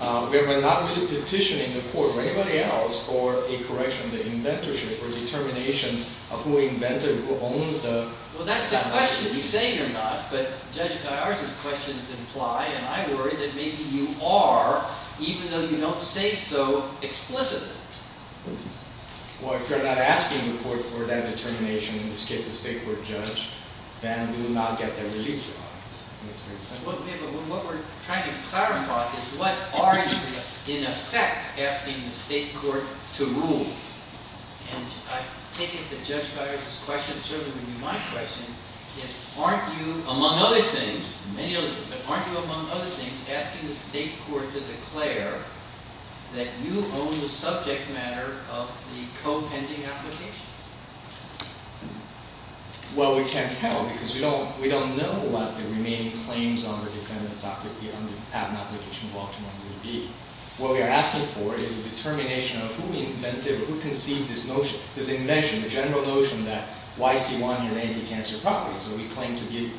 we're not petitioning the court or anybody else for a correction of inventorship, or a determination of who invented or owned the patent. Well, that's not a question to be saying or not. But Judge, there are some questions implied. And I worry that maybe you are, even though you don't say so explicitly. Well, if you're not asking the court for that determination in this case, the state court judge, then we will not get there in the future. What we're trying to clarify is what are you, in effect, asking the state court to rule? And I think it's a judge-by-judge discussion should be my question. Aren't you, among other things, many other things, but aren't you, among other things, asking the state court to declare that you own the subject matter of the co-pending application? Well, we can't tell. Because we don't know what the remaining claims on the determinant of the patent application will ultimately be. What we are asking for is a determination of who invented or who conceived this notion, this invention, the general notion that YC1 is anti-cancer property. So we claim to be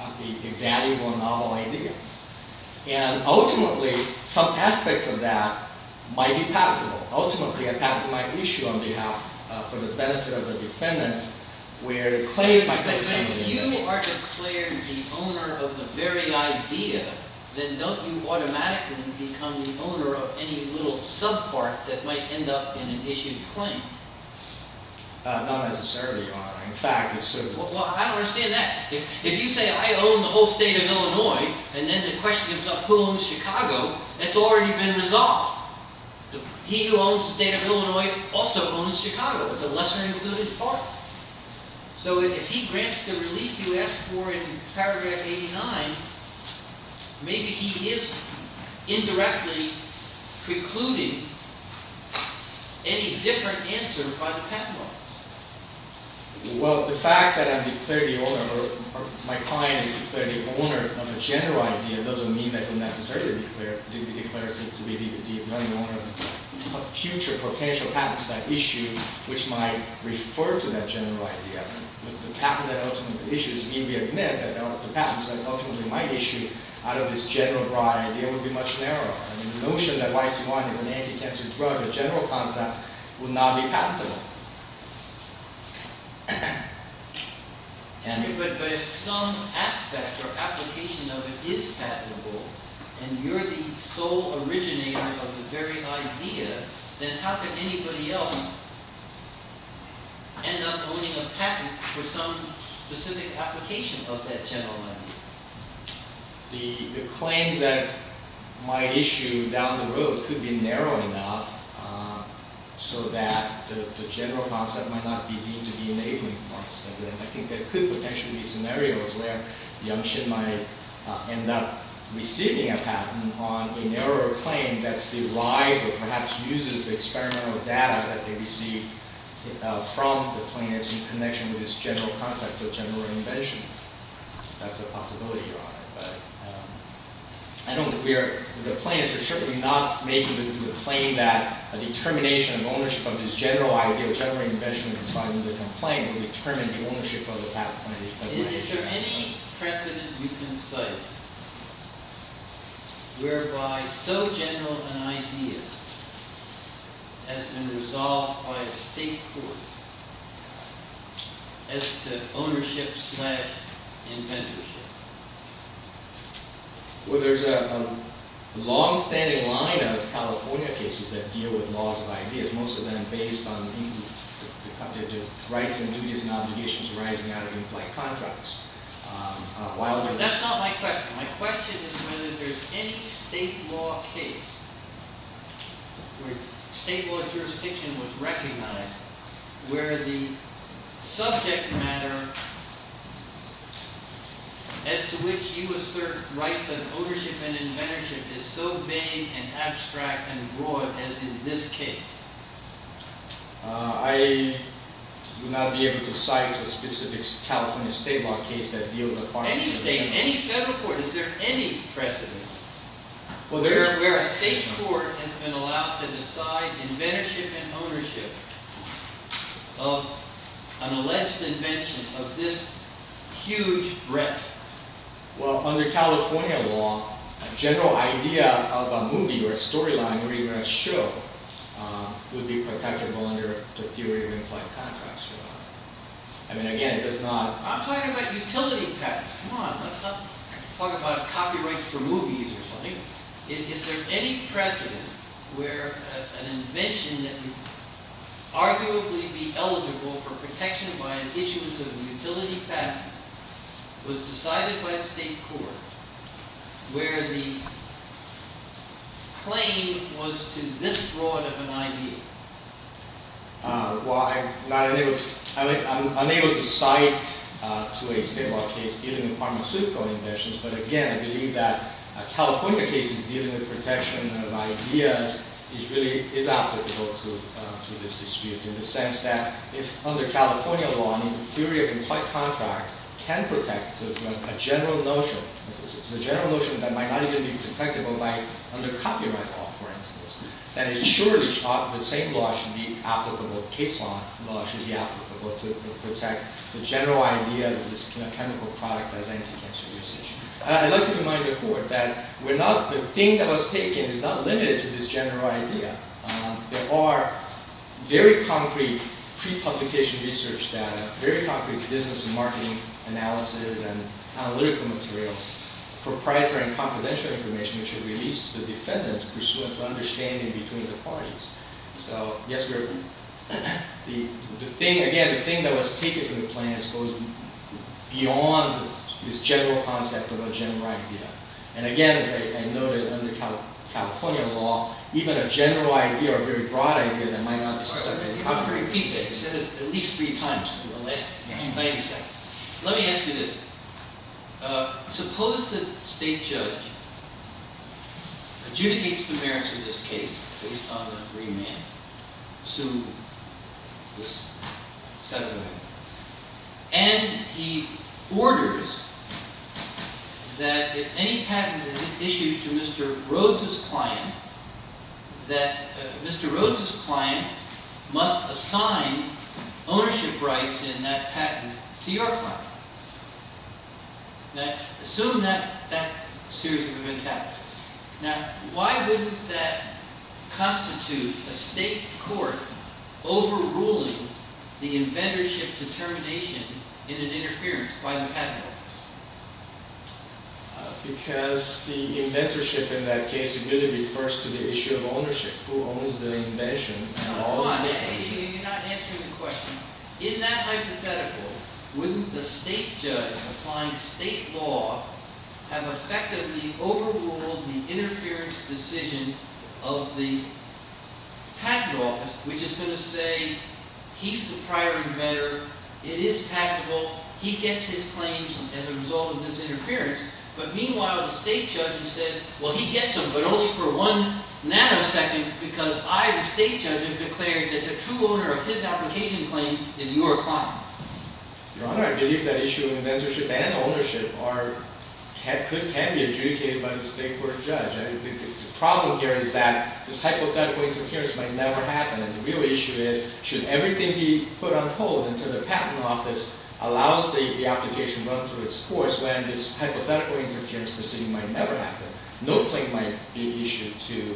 a valuable novel idea. And ultimately, some aspects of that might be possible. Ultimately, it might be an issue on behalf for the benefit of the defendant. If you are declared the owner of the very idea, then don't you automatically become the owner of any little subpart that might end up in an issued claim? Not necessarily, Your Honor. In fact, it's sort of. Well, how do I say that? If you say, I own the whole state of Illinois, and then the question is of whom, Chicago, that's already been resolved. He who owns the state of Illinois also owns Chicago, the lesser included part. So if he grants the release you asked for in paragraph 89, maybe he is indirectly precluding any different answer by the patent office. Well, the fact that I'm the 30th owner, or my client is the 30th owner of a general idea doesn't mean that's unnecessary. It's very good to be the owner of a future potential patent issue, which might refer to that general idea. The patent is ultimately my issue. Out of this general right, it would be much narrower. And the notion that my client would have to provide the general content would now be patentable. But there are some aspects or applications of it is patentable, and you're the sole originator of the very idea. Then how could anybody else end up owning a patent for some specific application of that general idea? The claim that my issue down the road could be narrowed down so that the general concept might not be deemed to be a neighboring concept. I think there could potentially be scenarios where Youngshin might end up receiving a patent on a narrow claim that is logical. Perhaps uses the experimental data that they receive from the plaintiffs in connection with this general concept or general invention. That's a possibility. I don't agree. The plaintiffs are certainly not making the claim that a determination of ownership of this general idea or general invention inside a different claim determines the ownership of the patent. Is there any precedent you can study whereby so general an idea has been resolved by a state court as to ownership slash inventorship? Well, there's a long-standing line of California cases that deal with laws of ideas, most of them based on the rights and duties and obligations arising out of inflected contracts. But that's not my question. My question is whether there's any state law case where state law jurisdiction was recognized where the subject matter as to which you assert rights of ownership and inventorship is so vague and abstract and broad as in this case. I would not be able to cite a specific California state law case that deals with part of the case. Any state, any federal court, is there any precedent where a state court has been allowed to decide inventorship and ownership of an alleged invention of this huge breadth? Well, under California law, a general idea of a movie or a storyline or even a show would be protectable under the theory of inflected contracts. And again, it's not a problem. I'm talking about utility practice. Come on, let's not talk about copyright for movies or something. Is there any precedent where an invention that would arguably be eligible for protection by an issuance of a utility patent was decided by a state court where the claim was to this broad of an idea? Well, I'm unable to cite a state law case dealing with pharmaceutical inventions. But again, I believe that a California case dealing with protection of an idea is applicable to this dispute in the sense that under California law, the theory of inflected contracts can protect a general notion. A general notion that might not even be protected, but might under copyright law, for instance, that insures the same law should be applicable. A case law should be applicable to protect the general idea that this chemical product does anything to the situation. I'd like to remind the court that the thing that was taken is not limited to this general idea. There are very concrete pre-publication research data, very concrete business and marketing analysis, and analytical materials. Proprietary and confidential information should be used to defend this pursuant to understanding between the parties. So yes, the thing, again, the thing that was taken from the claims goes beyond this general concept of a general idea. And again, I know that under California law, even a general idea or a very broad idea that might not be protected. I'm going to repeat that. I've said it at least three times in the last 90 seconds. Let me ask you this. Suppose that the state judge adjudicates the merits of this case based on agreement, assuming this settlement. And he orders that if any patent is issued to Mr. Rhodes's client, must assign ownership rights in that patent to your client. Assume that that series of events happens. Now, why wouldn't that constitute a state court overruling the inventorship determination in an interference by the patent? Because the inventorship in that case refers to the issue of ownership. Who owns the invention? Well, I think you're not answering the question. In that hypothetical, wouldn't the state judge find state law has effectively overruled the interference decision of the patent office, which is going to say, he's the prior inventor. It is patentable. He gets his claims as a result of his interference. But meanwhile, the state judge says, well, he gets them. But only for one nanosecond. Because I, the state judge, have declared that the true owner of his application claims is your client. Your Honor, I believe the issue of inventorship and ownership could have been adjudicated by the state court judge. The problem here is that this hypothetical interference might never happen. And the real issue is, should everything be put on hold until the patent office allows the application to run through its course, then this hypothetical interference decision might never happen. No claim might be issued to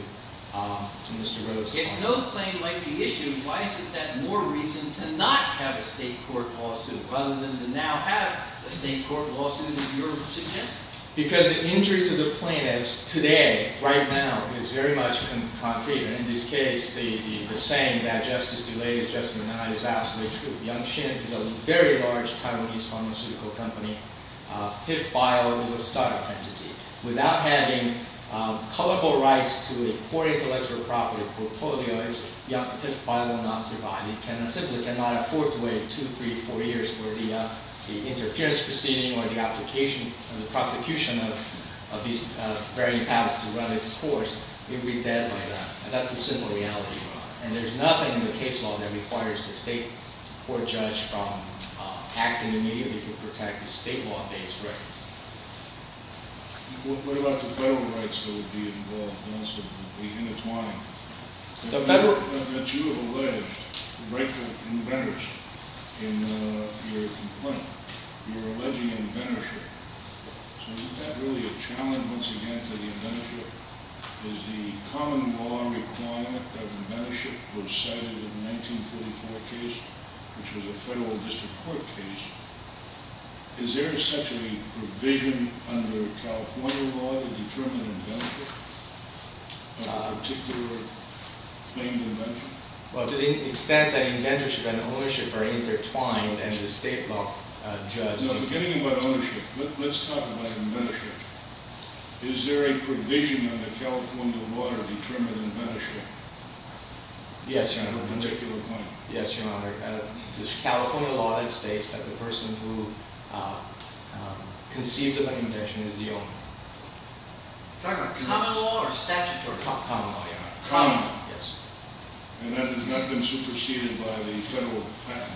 Mr. Rose. If no claim might be issued, why is it that more reason to not have a state court lawsuit rather than to now have a state court lawsuit, as you're suggesting? Because the injury to the plaintiffs today, right now, is very much in concrete. And in this case, the saying that justice delayed is justice denied is absolutely true. Young-Shin, a very large Taiwanese pharmaceutical company, pit-filed with Sutter. Without having colloquial rights to import intellectual property or portfolios, young participants will not survive. They cannot afford to wait two, three, four years for the interference proceeding or the application or the prosecution of these very patents to run its course. They will be dead by then. That's the simple reality. And there's nothing in the case law that requires the state court judge to act immediately to protect the state law case record. What about the federal rights that would be involved in this case? The intertwining. The letter that you allege the right to inventors in your complaint, you're alleging inventorship. So isn't that really a challenge, once again, to the inventor? Is the common law requiring that inventorship per se in the 1934 case, which was a federal district court case? Is there such a provision under California law to determine inventorship? A particular thing you mentioned? Well, to the extent that inventorship and ownership are intertwined, and the state law judge. No, beginning with ownership. Let's talk about inventorship. Is there a provision under California law to determine inventorship? Yes, Your Honor. To make your point. Yes, Your Honor. The California law states that the person who conceives of an invention is the owner. Common law or statute for common law, Your Honor? Common law, yes. And that has not been superseded by the general plan?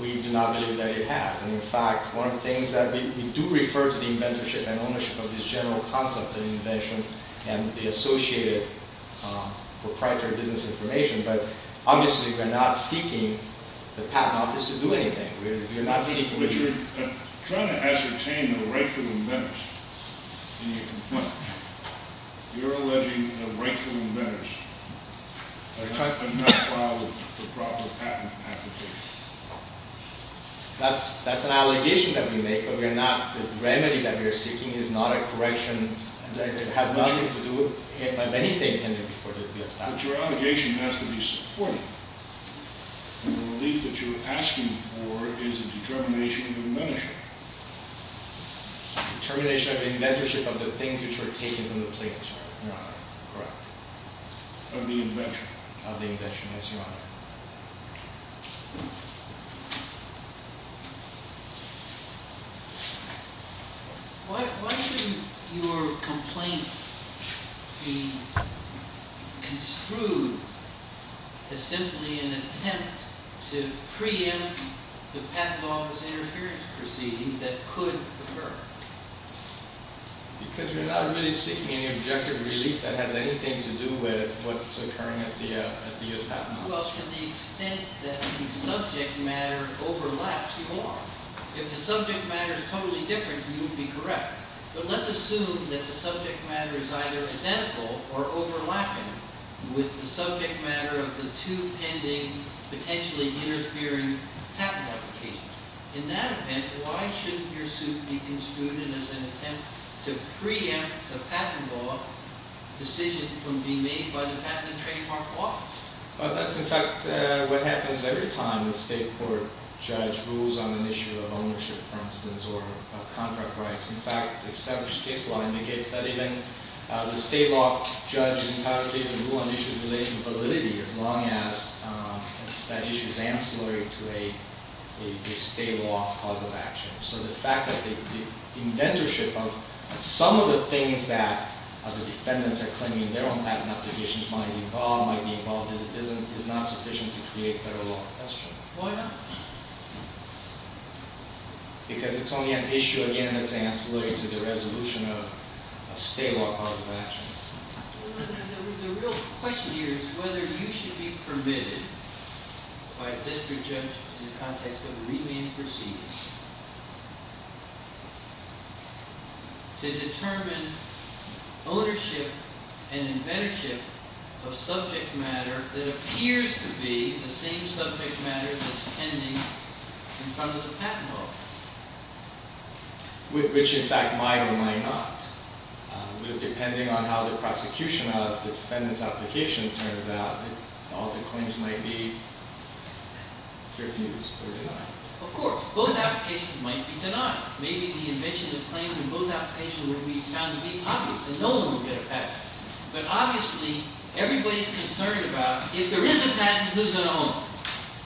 We do not believe that it has. And in fact, one of the things that we do refer to the inventorship and ownership of the general concept of invention and the associated proprietary business information. But obviously, we're not seeking the patent on this to do anything. We're not doing anything. But you're trying to ascertain the rightful merits in your complaint. You're alleging the rightful merits. But you're not following the proper patent application. That's an allegation that we make, but we're not. The remedy that you're seeking is not a correction. It has nothing to do with anything in the purview of the patent. But your allegation has to be supported. And the relief that you're asking for is a determination of inventorship. Determination of inventorship of the things which were taken into place, Your Honor. Correct. Of the invention. Of the invention, yes, Your Honor. Why should your complaint be construed as simply an attempt to preempt the patent office interference proceeding that could occur? Because you're not really seeking any objective relief that had anything to do with what's occurring at the U of M. Well, to the extent that the subject matter overlaps If the subject matter is totally different, you would be correct. But let's assume that the subject matter is either identical or overlapping with the subject matter of the two pending potentially interfering patent applications. In that event, why should your suit be construed as an attempt to preempt the patent law decision from being made by the Patent and Trademark Office? Well, that's the fact that what happens every time a state court judge rules on an issue of ownership, for instance, or contract rights. In fact, the established case law indicates that even a state law judge is not able to rule on issues in relation to validity as long as that issue is ancillary to a state law cause of action. So the fact that the inventorship of some of the things that the defendants are claiming their own patent applications might be involved in is not sufficient to create federal law enforcement. Why not? Because it's only an issue, again, that's ancillary to the resolution of a state law cause of action. The real question here is whether you should be permitted by a district judge in the context of the reasoning he proceeds to determine ownership and inventorship of subject matter that appears to be the same subject matter that's pending in front of the Patent Office. Which, in fact, might or might not. Just depending on how the prosecution of the defendant's application turns out, all the claims might be. Both applications might be denied. Maybe the invention of the claim in both applications would be found to be a topic. But no one would get a patent. But obviously, everybody is concerned about, if there is a patent, who's going to own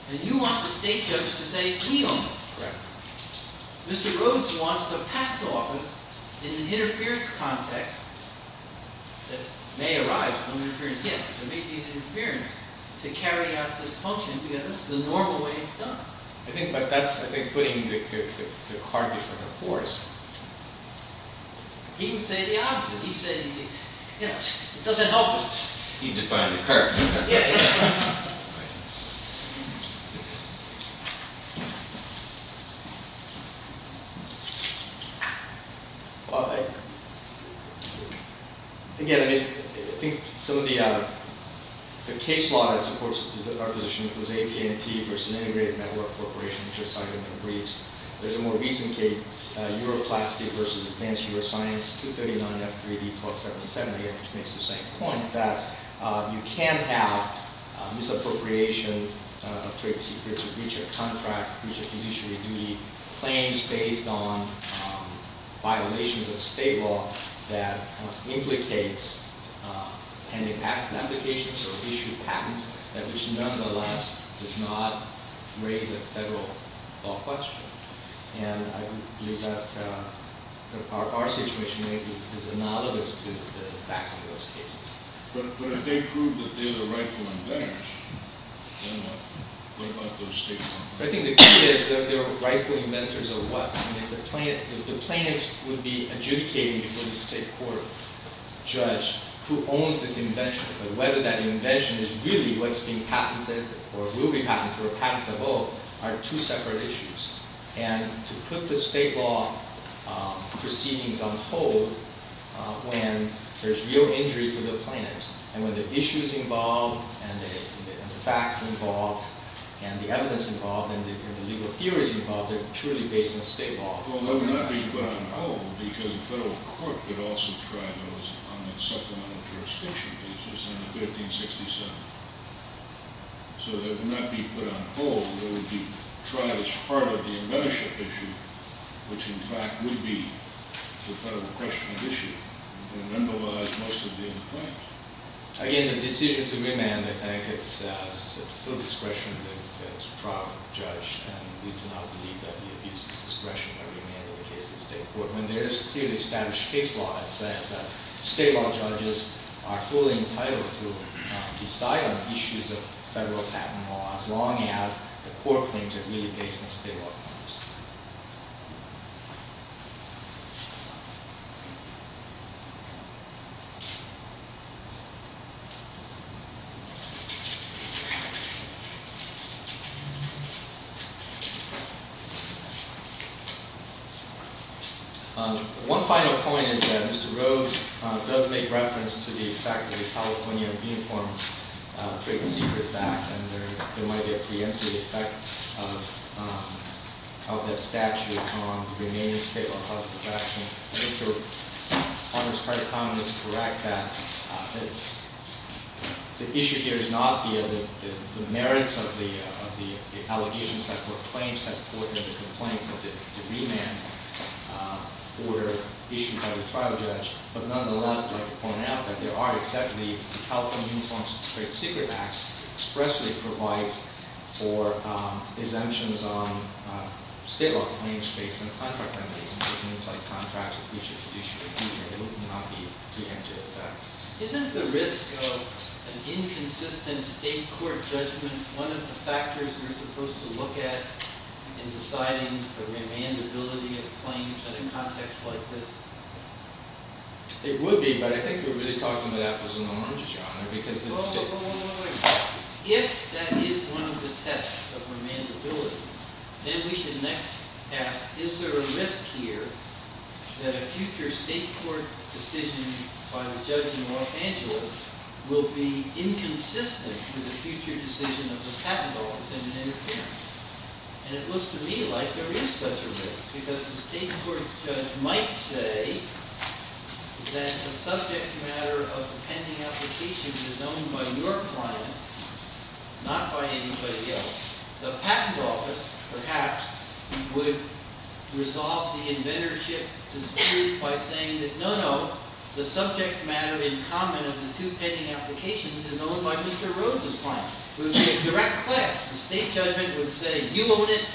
it? And you want the state judge to say, he owns it. Mr. Rhodes wants the Patent Office in an interference context that may arise from interference here. So maybe it's interference to carry out this function together. That's the normal way it's done. I think that's putting the cart before the horse. He can say the opposite. He can say, yes, it doesn't help us. He can find the cart. Again, I think some of the case laws, of course, our position is AP&T versus an integrated network corporation, which I cited in the briefs. There's a more recent case, Euro Class D versus Advanced U.S. Finance 239-3D-477, which makes the same point. In fact, you can have misappropriation of trade secrets in future contracts, which can usually be claims based on violations of state law that implicate pending applications or issued patents that is not in the law, does not raise a federal law question. And our situation is that none of those cases are the facts of those cases. But if they prove that there's a rightful inventors, then they might be able to state something. I think the key is that there are rightful inventors of what? The plaintiff would be adjudicating before the state court judge who owns the invention whether that invention is really what's being patented or will be patented or patented at all are two separate issues. And to put the state law proceedings on hold when there's real injuries with the plaintiffs, and when the issue is involved, and the fact involved, and the evidence involved, and the legal theory involved, they're truly based on state law. Well, they would not be put on hold because the federal court could also try those on the settlement of their association cases under 1567. So they would not be put on hold. They would be tried as part of the inventorship issue, which in fact would be the federal question of issue. And then the law is mostly written by it. Again, the decision to remand, I think, is still discretionary. That's a problem. I'm not a judge. And we cannot believe that it is discretionary. There is clearly established case law that says that state law judges are fully entitled to decide on issues of federal patent law as long as the court claims that they are based on state law. Thank you. One final point is that Mr. Rhoades does make reference to the fact that the California Uniform Patency Procedure Act. And I don't want to get too into the fact of the statute on the remaining state law classifications. I think your point is quite common to correct that. The issue here is not the merits of the allegations that were claims that the court made to the plaintiff in the remand order issued by the child judge. But nonetheless, I'd like to point out that there are exceptions. The California Uniform Patency Procedure Act expressly provides for exemptions on state law claims based on contract that would not be granted otherwise. Isn't the risk of an inconsistent state court judgment one of the factors you're supposed to look at in deciding the remandability of claims at an object like this? It would be. But I think we were just talking about that as a moment. Oh, wait, wait, wait. If that is one of the tests of remandability, then we can next ask, is there a risk here that a future state court decision by the judge in Washington will be inconsistent with the future decision of the patent office in the United States? And it looks to me like there is such a risk. Because the state court judge might say that it's a subject matter of the pending application that's owned by your client, not by anybody else. The patent office, perhaps, would resolve the inventorship dispute by saying that no, no, the subject matter in common of the two pending applications is owned by Mr. Rose's client. It would be a direct clash. The state judge would say, you own it.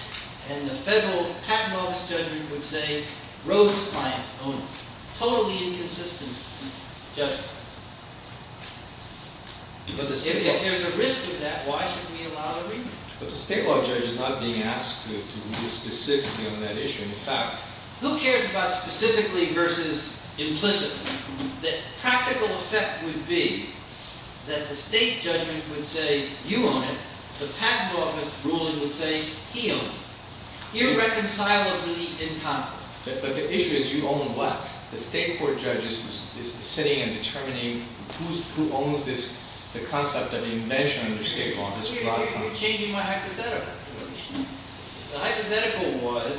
And the federal patent office judge would say, Rose's client owns it. Totally inconsistent. Yes. But if there's a risk in that, why should we allow remand? Because the state court judge is not being asked to be specific on that issue. In fact, who cares about specifically versus implicitly? The practical effect would be that the state judge would say, you own it. The patent office ruling would say, he owns it. You reconcile the two in common. But the issue is you own what? The state court judge is sitting and determining who owns the concept of the invention of the state law. We're changing my hypothetical. The hypothetical was,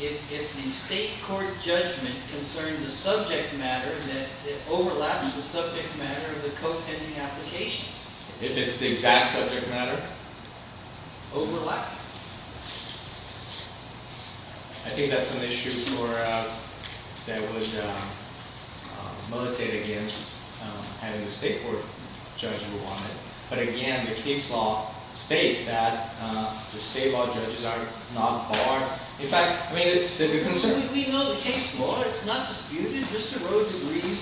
if the state court judgment concerns the subject matter, then it overlaps the subject matter of the co-pending application. If it's the exact subject matter? Overlap. I think that's an issue where I was motivated against having the state court judge rule on it. But again, the case law states that the state law judges are not barred. In fact, may this be of concern? We know the case law. It's not disputed. This is a Rose's case.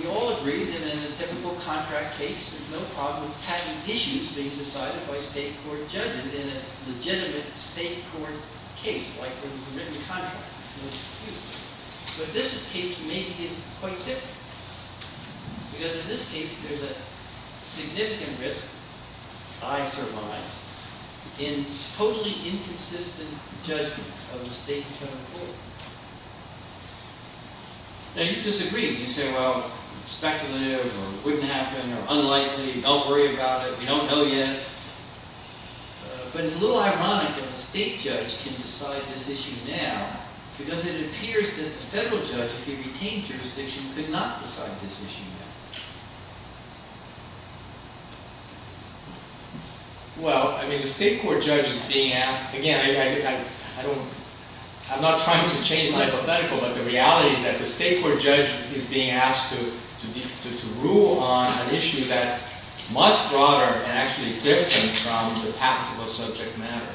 We all agree that in a typical contract case, there's no problem with patent issues being decided by state court judges in a legitimate state court case like one in every contract. But this case may be quite different. Because in this case, there's a significant risk, I surmise, in totally inconsistent judgment of the state court. Now, you disagree. You say, well, it's back to the news, or it wouldn't happen, or unlikely, don't worry about it. We don't know yet. But it's a little ironic that a state judge can decide this issue now, because it appears that the federal judges, if they came to a decision, did not decide this issue. Well, I mean, the state court judge is being asked. Again, I'm not trying to change my hypothetical. But the reality is that the state court judge is being asked to rule on an issue that's much broader and actually different from the tactical subject matter.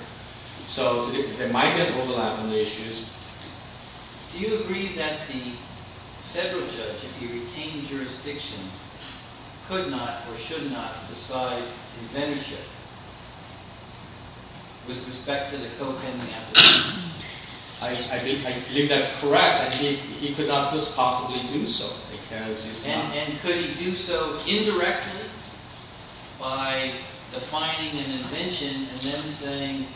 So they might get a little out on the issues. Do you agree that the federal judge, if he retained jurisdiction, could not or should not decide convention with respect to the co-pending application? I think that's correct. He could not just possibly do so. And could he do so indirectly by defining an invention and then saying,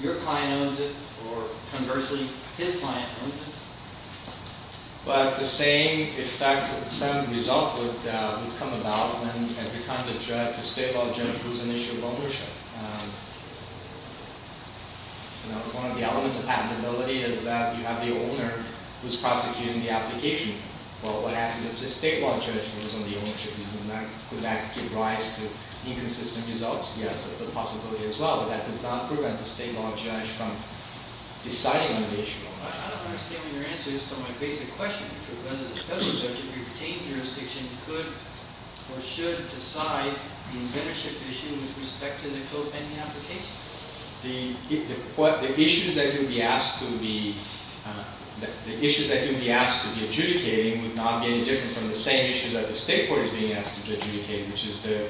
your client owns it, or conversely, his client owns it? But the same effect or the same result would come about when it becomes a judge, a state law judge, who's an issue of ownership. One of the elements of patentability is that you have the owner who's prosecuting the application. Well, what happens if the state law judge was on the ownership? Would that give rise to inconsistent results? Yes, there's a possibility as well. But that does not prevent the state law judge from deciding the issue. I don't understand your answer. It's such a big question. Because it doesn't look like if he retained jurisdiction, he could or should decide the invention issue with respect to the co-pending application. The issues that he would be asked to be adjudicating would not be any different from the same issues that the state court is being asked to adjudicate, which is the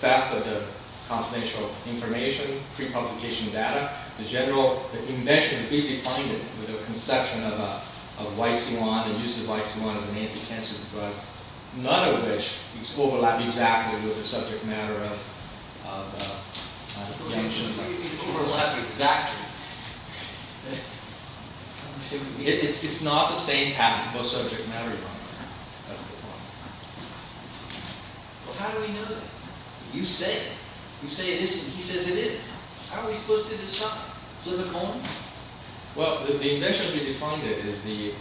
theft of the confidential information, pre-publication data. The general invention would be defunded with a construction of a white fiance, a use of white fiance as a main pretense. But none of which is overlapping exactly with the subject matter of the invention. It's not overlapping exactly. It's not the same path, both subject matter and the invention. How do we know that? You say it. You say it isn't. He says it is. How are we supposed to decide? Through the co-pending? Well, the invention would be defunded with the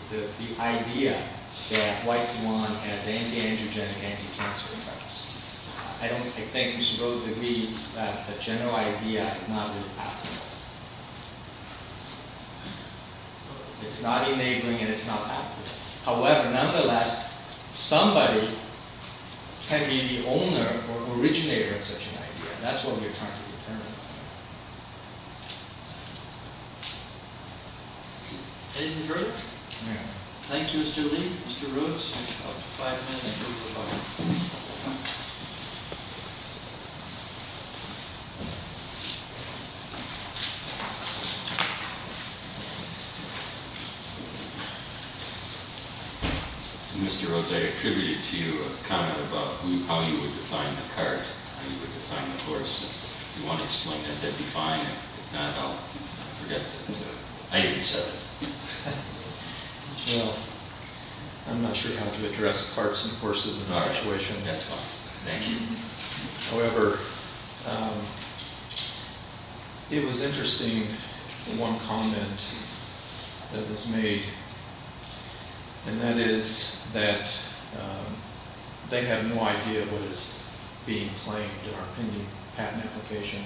idea that white swan has anti-angiogenic, anti-cancer effects. I don't think it's supposed to be that the general idea is not good practice. It's not enabling, and it's not happening. However, nonetheless, somebody can be the owner or originator of such an idea. That's what we're trying to determine. Thank you. Thank you, Mr. Lee. Mr. Rose. Mr. Rose, I attribute to you a comment about how you would define the park, how you would define the forest. Do you want to explain that to define it? No, no. Thank you, sir. I'm not sure how to address parks and forests in my actuation at that time. However, it was interesting, one comment that was made. And that is that they have no idea what is being claimed in our opinion at an application.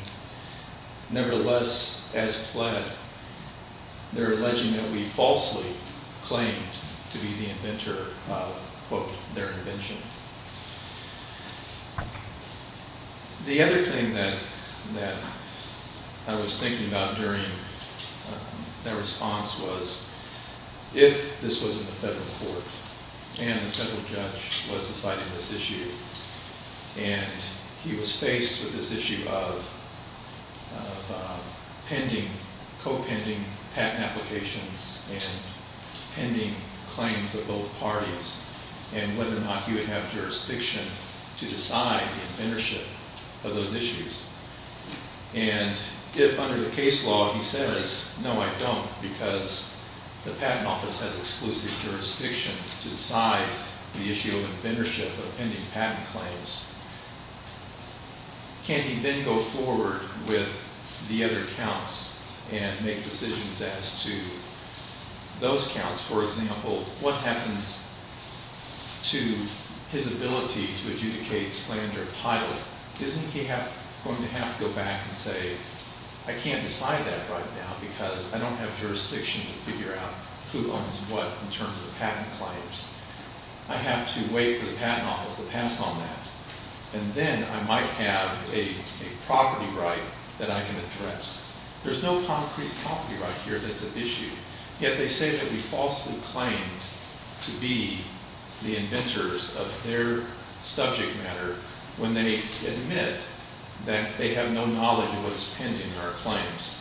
Nevertheless, as fled, they're alleging that we falsely claimed to be the inventor of, quote, their invention. The other thing that I was thinking about during that response was if this was in the federal court and the federal judge was deciding this issue. And he was faced with this issue of pending, co-pending patent applications and pending claims of both parties. And whether or not he would have jurisdiction to decide the ownership of those issues. And if under the case law, he says, no, I don't because the patent office has exclusive jurisdiction to decide the issue of inventorship of pending patent claims. Can he then go forward with the other counts and make decisions as to those counts? For example, what happens to his ability to adjudicate his claim to a pilot? Isn't he going to have to go back and say, I can't decide that right now because I don't know what in terms of patent claims. I have to wait for the patent office to pass on that. And then I might have a property right that I can address. There's no concrete property right here that's at issue. Yet they say that we falsely claimed to be the inventors of their subject matter when they admit that they have no knowledge of what's pending our claims.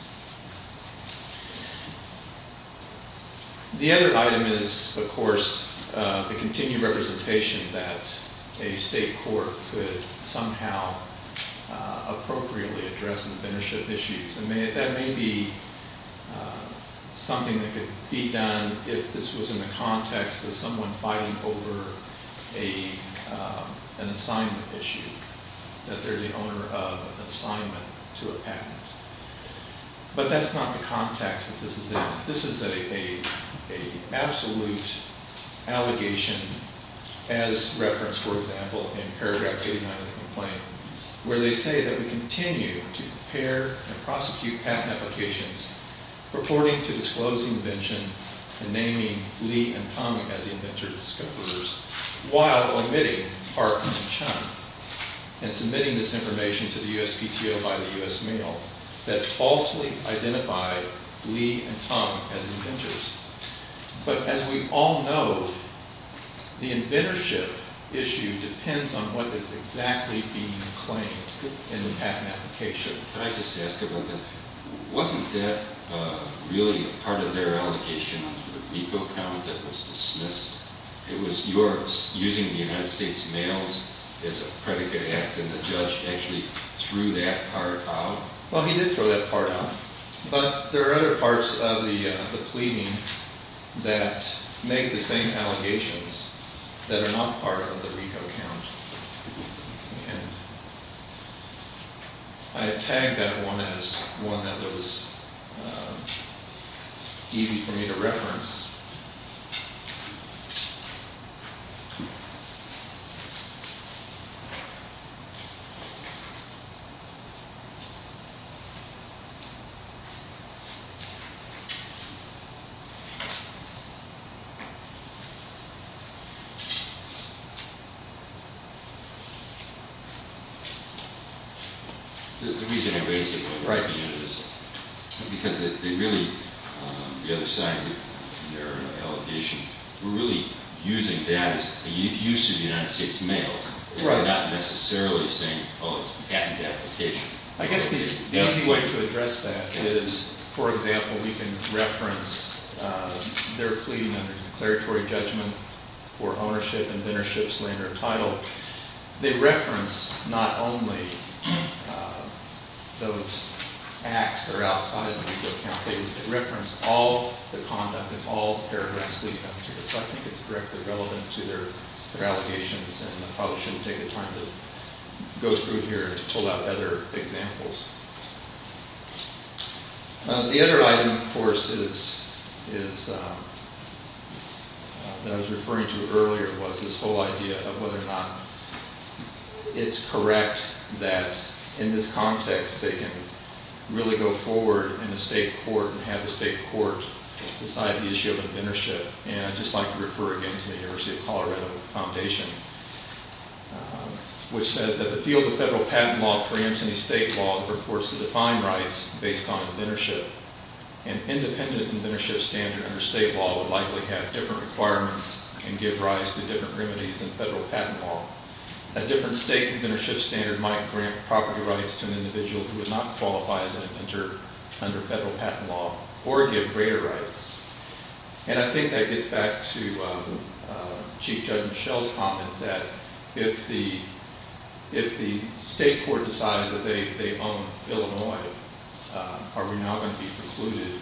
The other item is, of course, the continued representation that a state court could somehow appropriately address inventorship issues. And that may be something that could be done if this was in the context of someone fighting over an assignment issue, that they're the owner of an assignment to a patent. But that's not the context that this is in. This is an absolute allegation as referenced, for example, in Paragraph 800 of the claim, where they say that we continue to prepare and prosecute patent applications, reporting to disclosing invention and naming Lee and Tom as the inventors and discoverers, while admitting our claim to China and submitting this information to the U.S. mail, that falsely identify Lee and Tom as inventors. But as we all know, the inventorship issue depends on what is exactly being claimed in the patent application. I'd like to ask a little bit. Wasn't that really part of their allocation to the repo count that was dismissed? It was yours. Using the United States mail as a predicate, and the judge actually threw that part out. Well, he did throw that part out. But there are other parts of the claim that make the same allegations that are not part of the repo count. I have tagged that one as one that was easy for me to reference. Thank you. The reason I'm basing it on writing is because they really, on the other side of their allocation, were really using that and using the United States mail. They were not necessarily saying, oh, it's the patent application. I guess the only way to address that is, for example, we can reference their claim under declaratory judgment for ownership, inventorship, slander, or title. They reference not only those acts or outliers in the repo count. They reference all the conduct in all parameters directly relevant to their allegations. And I probably shouldn't take the time to go through here and pull out other examples. The other item, of course, that I was referring to earlier was this whole idea of whether or not it's correct that, in this context, they can really go forward in a state court and have the state court decide the issue of inventorship. And I'd just like to refer again to the University of Colorado Foundation, which says that the field of federal patent law claims in the state law for courts to define rights based on inventorship. An independent inventorship standard under state law would likely have different requirements and give rise to different remedies in federal patent law. A different state inventorship standard might grant property rights to an individual who would not qualify as an inventor under federal patent law or give greater rights. And I think that gets back to Chief Judge Michelle's comment that if the state court decides that they own Illinois, are we not going to be precluded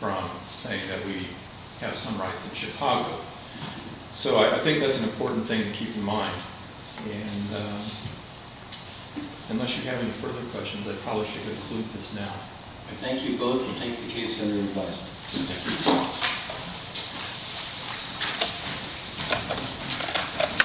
from saying that we have some rights in Chicago? So I think that's an important thing to keep in mind. And unless you have any further questions, I'd probably should conclude this now. Thank you both. And take the case under review.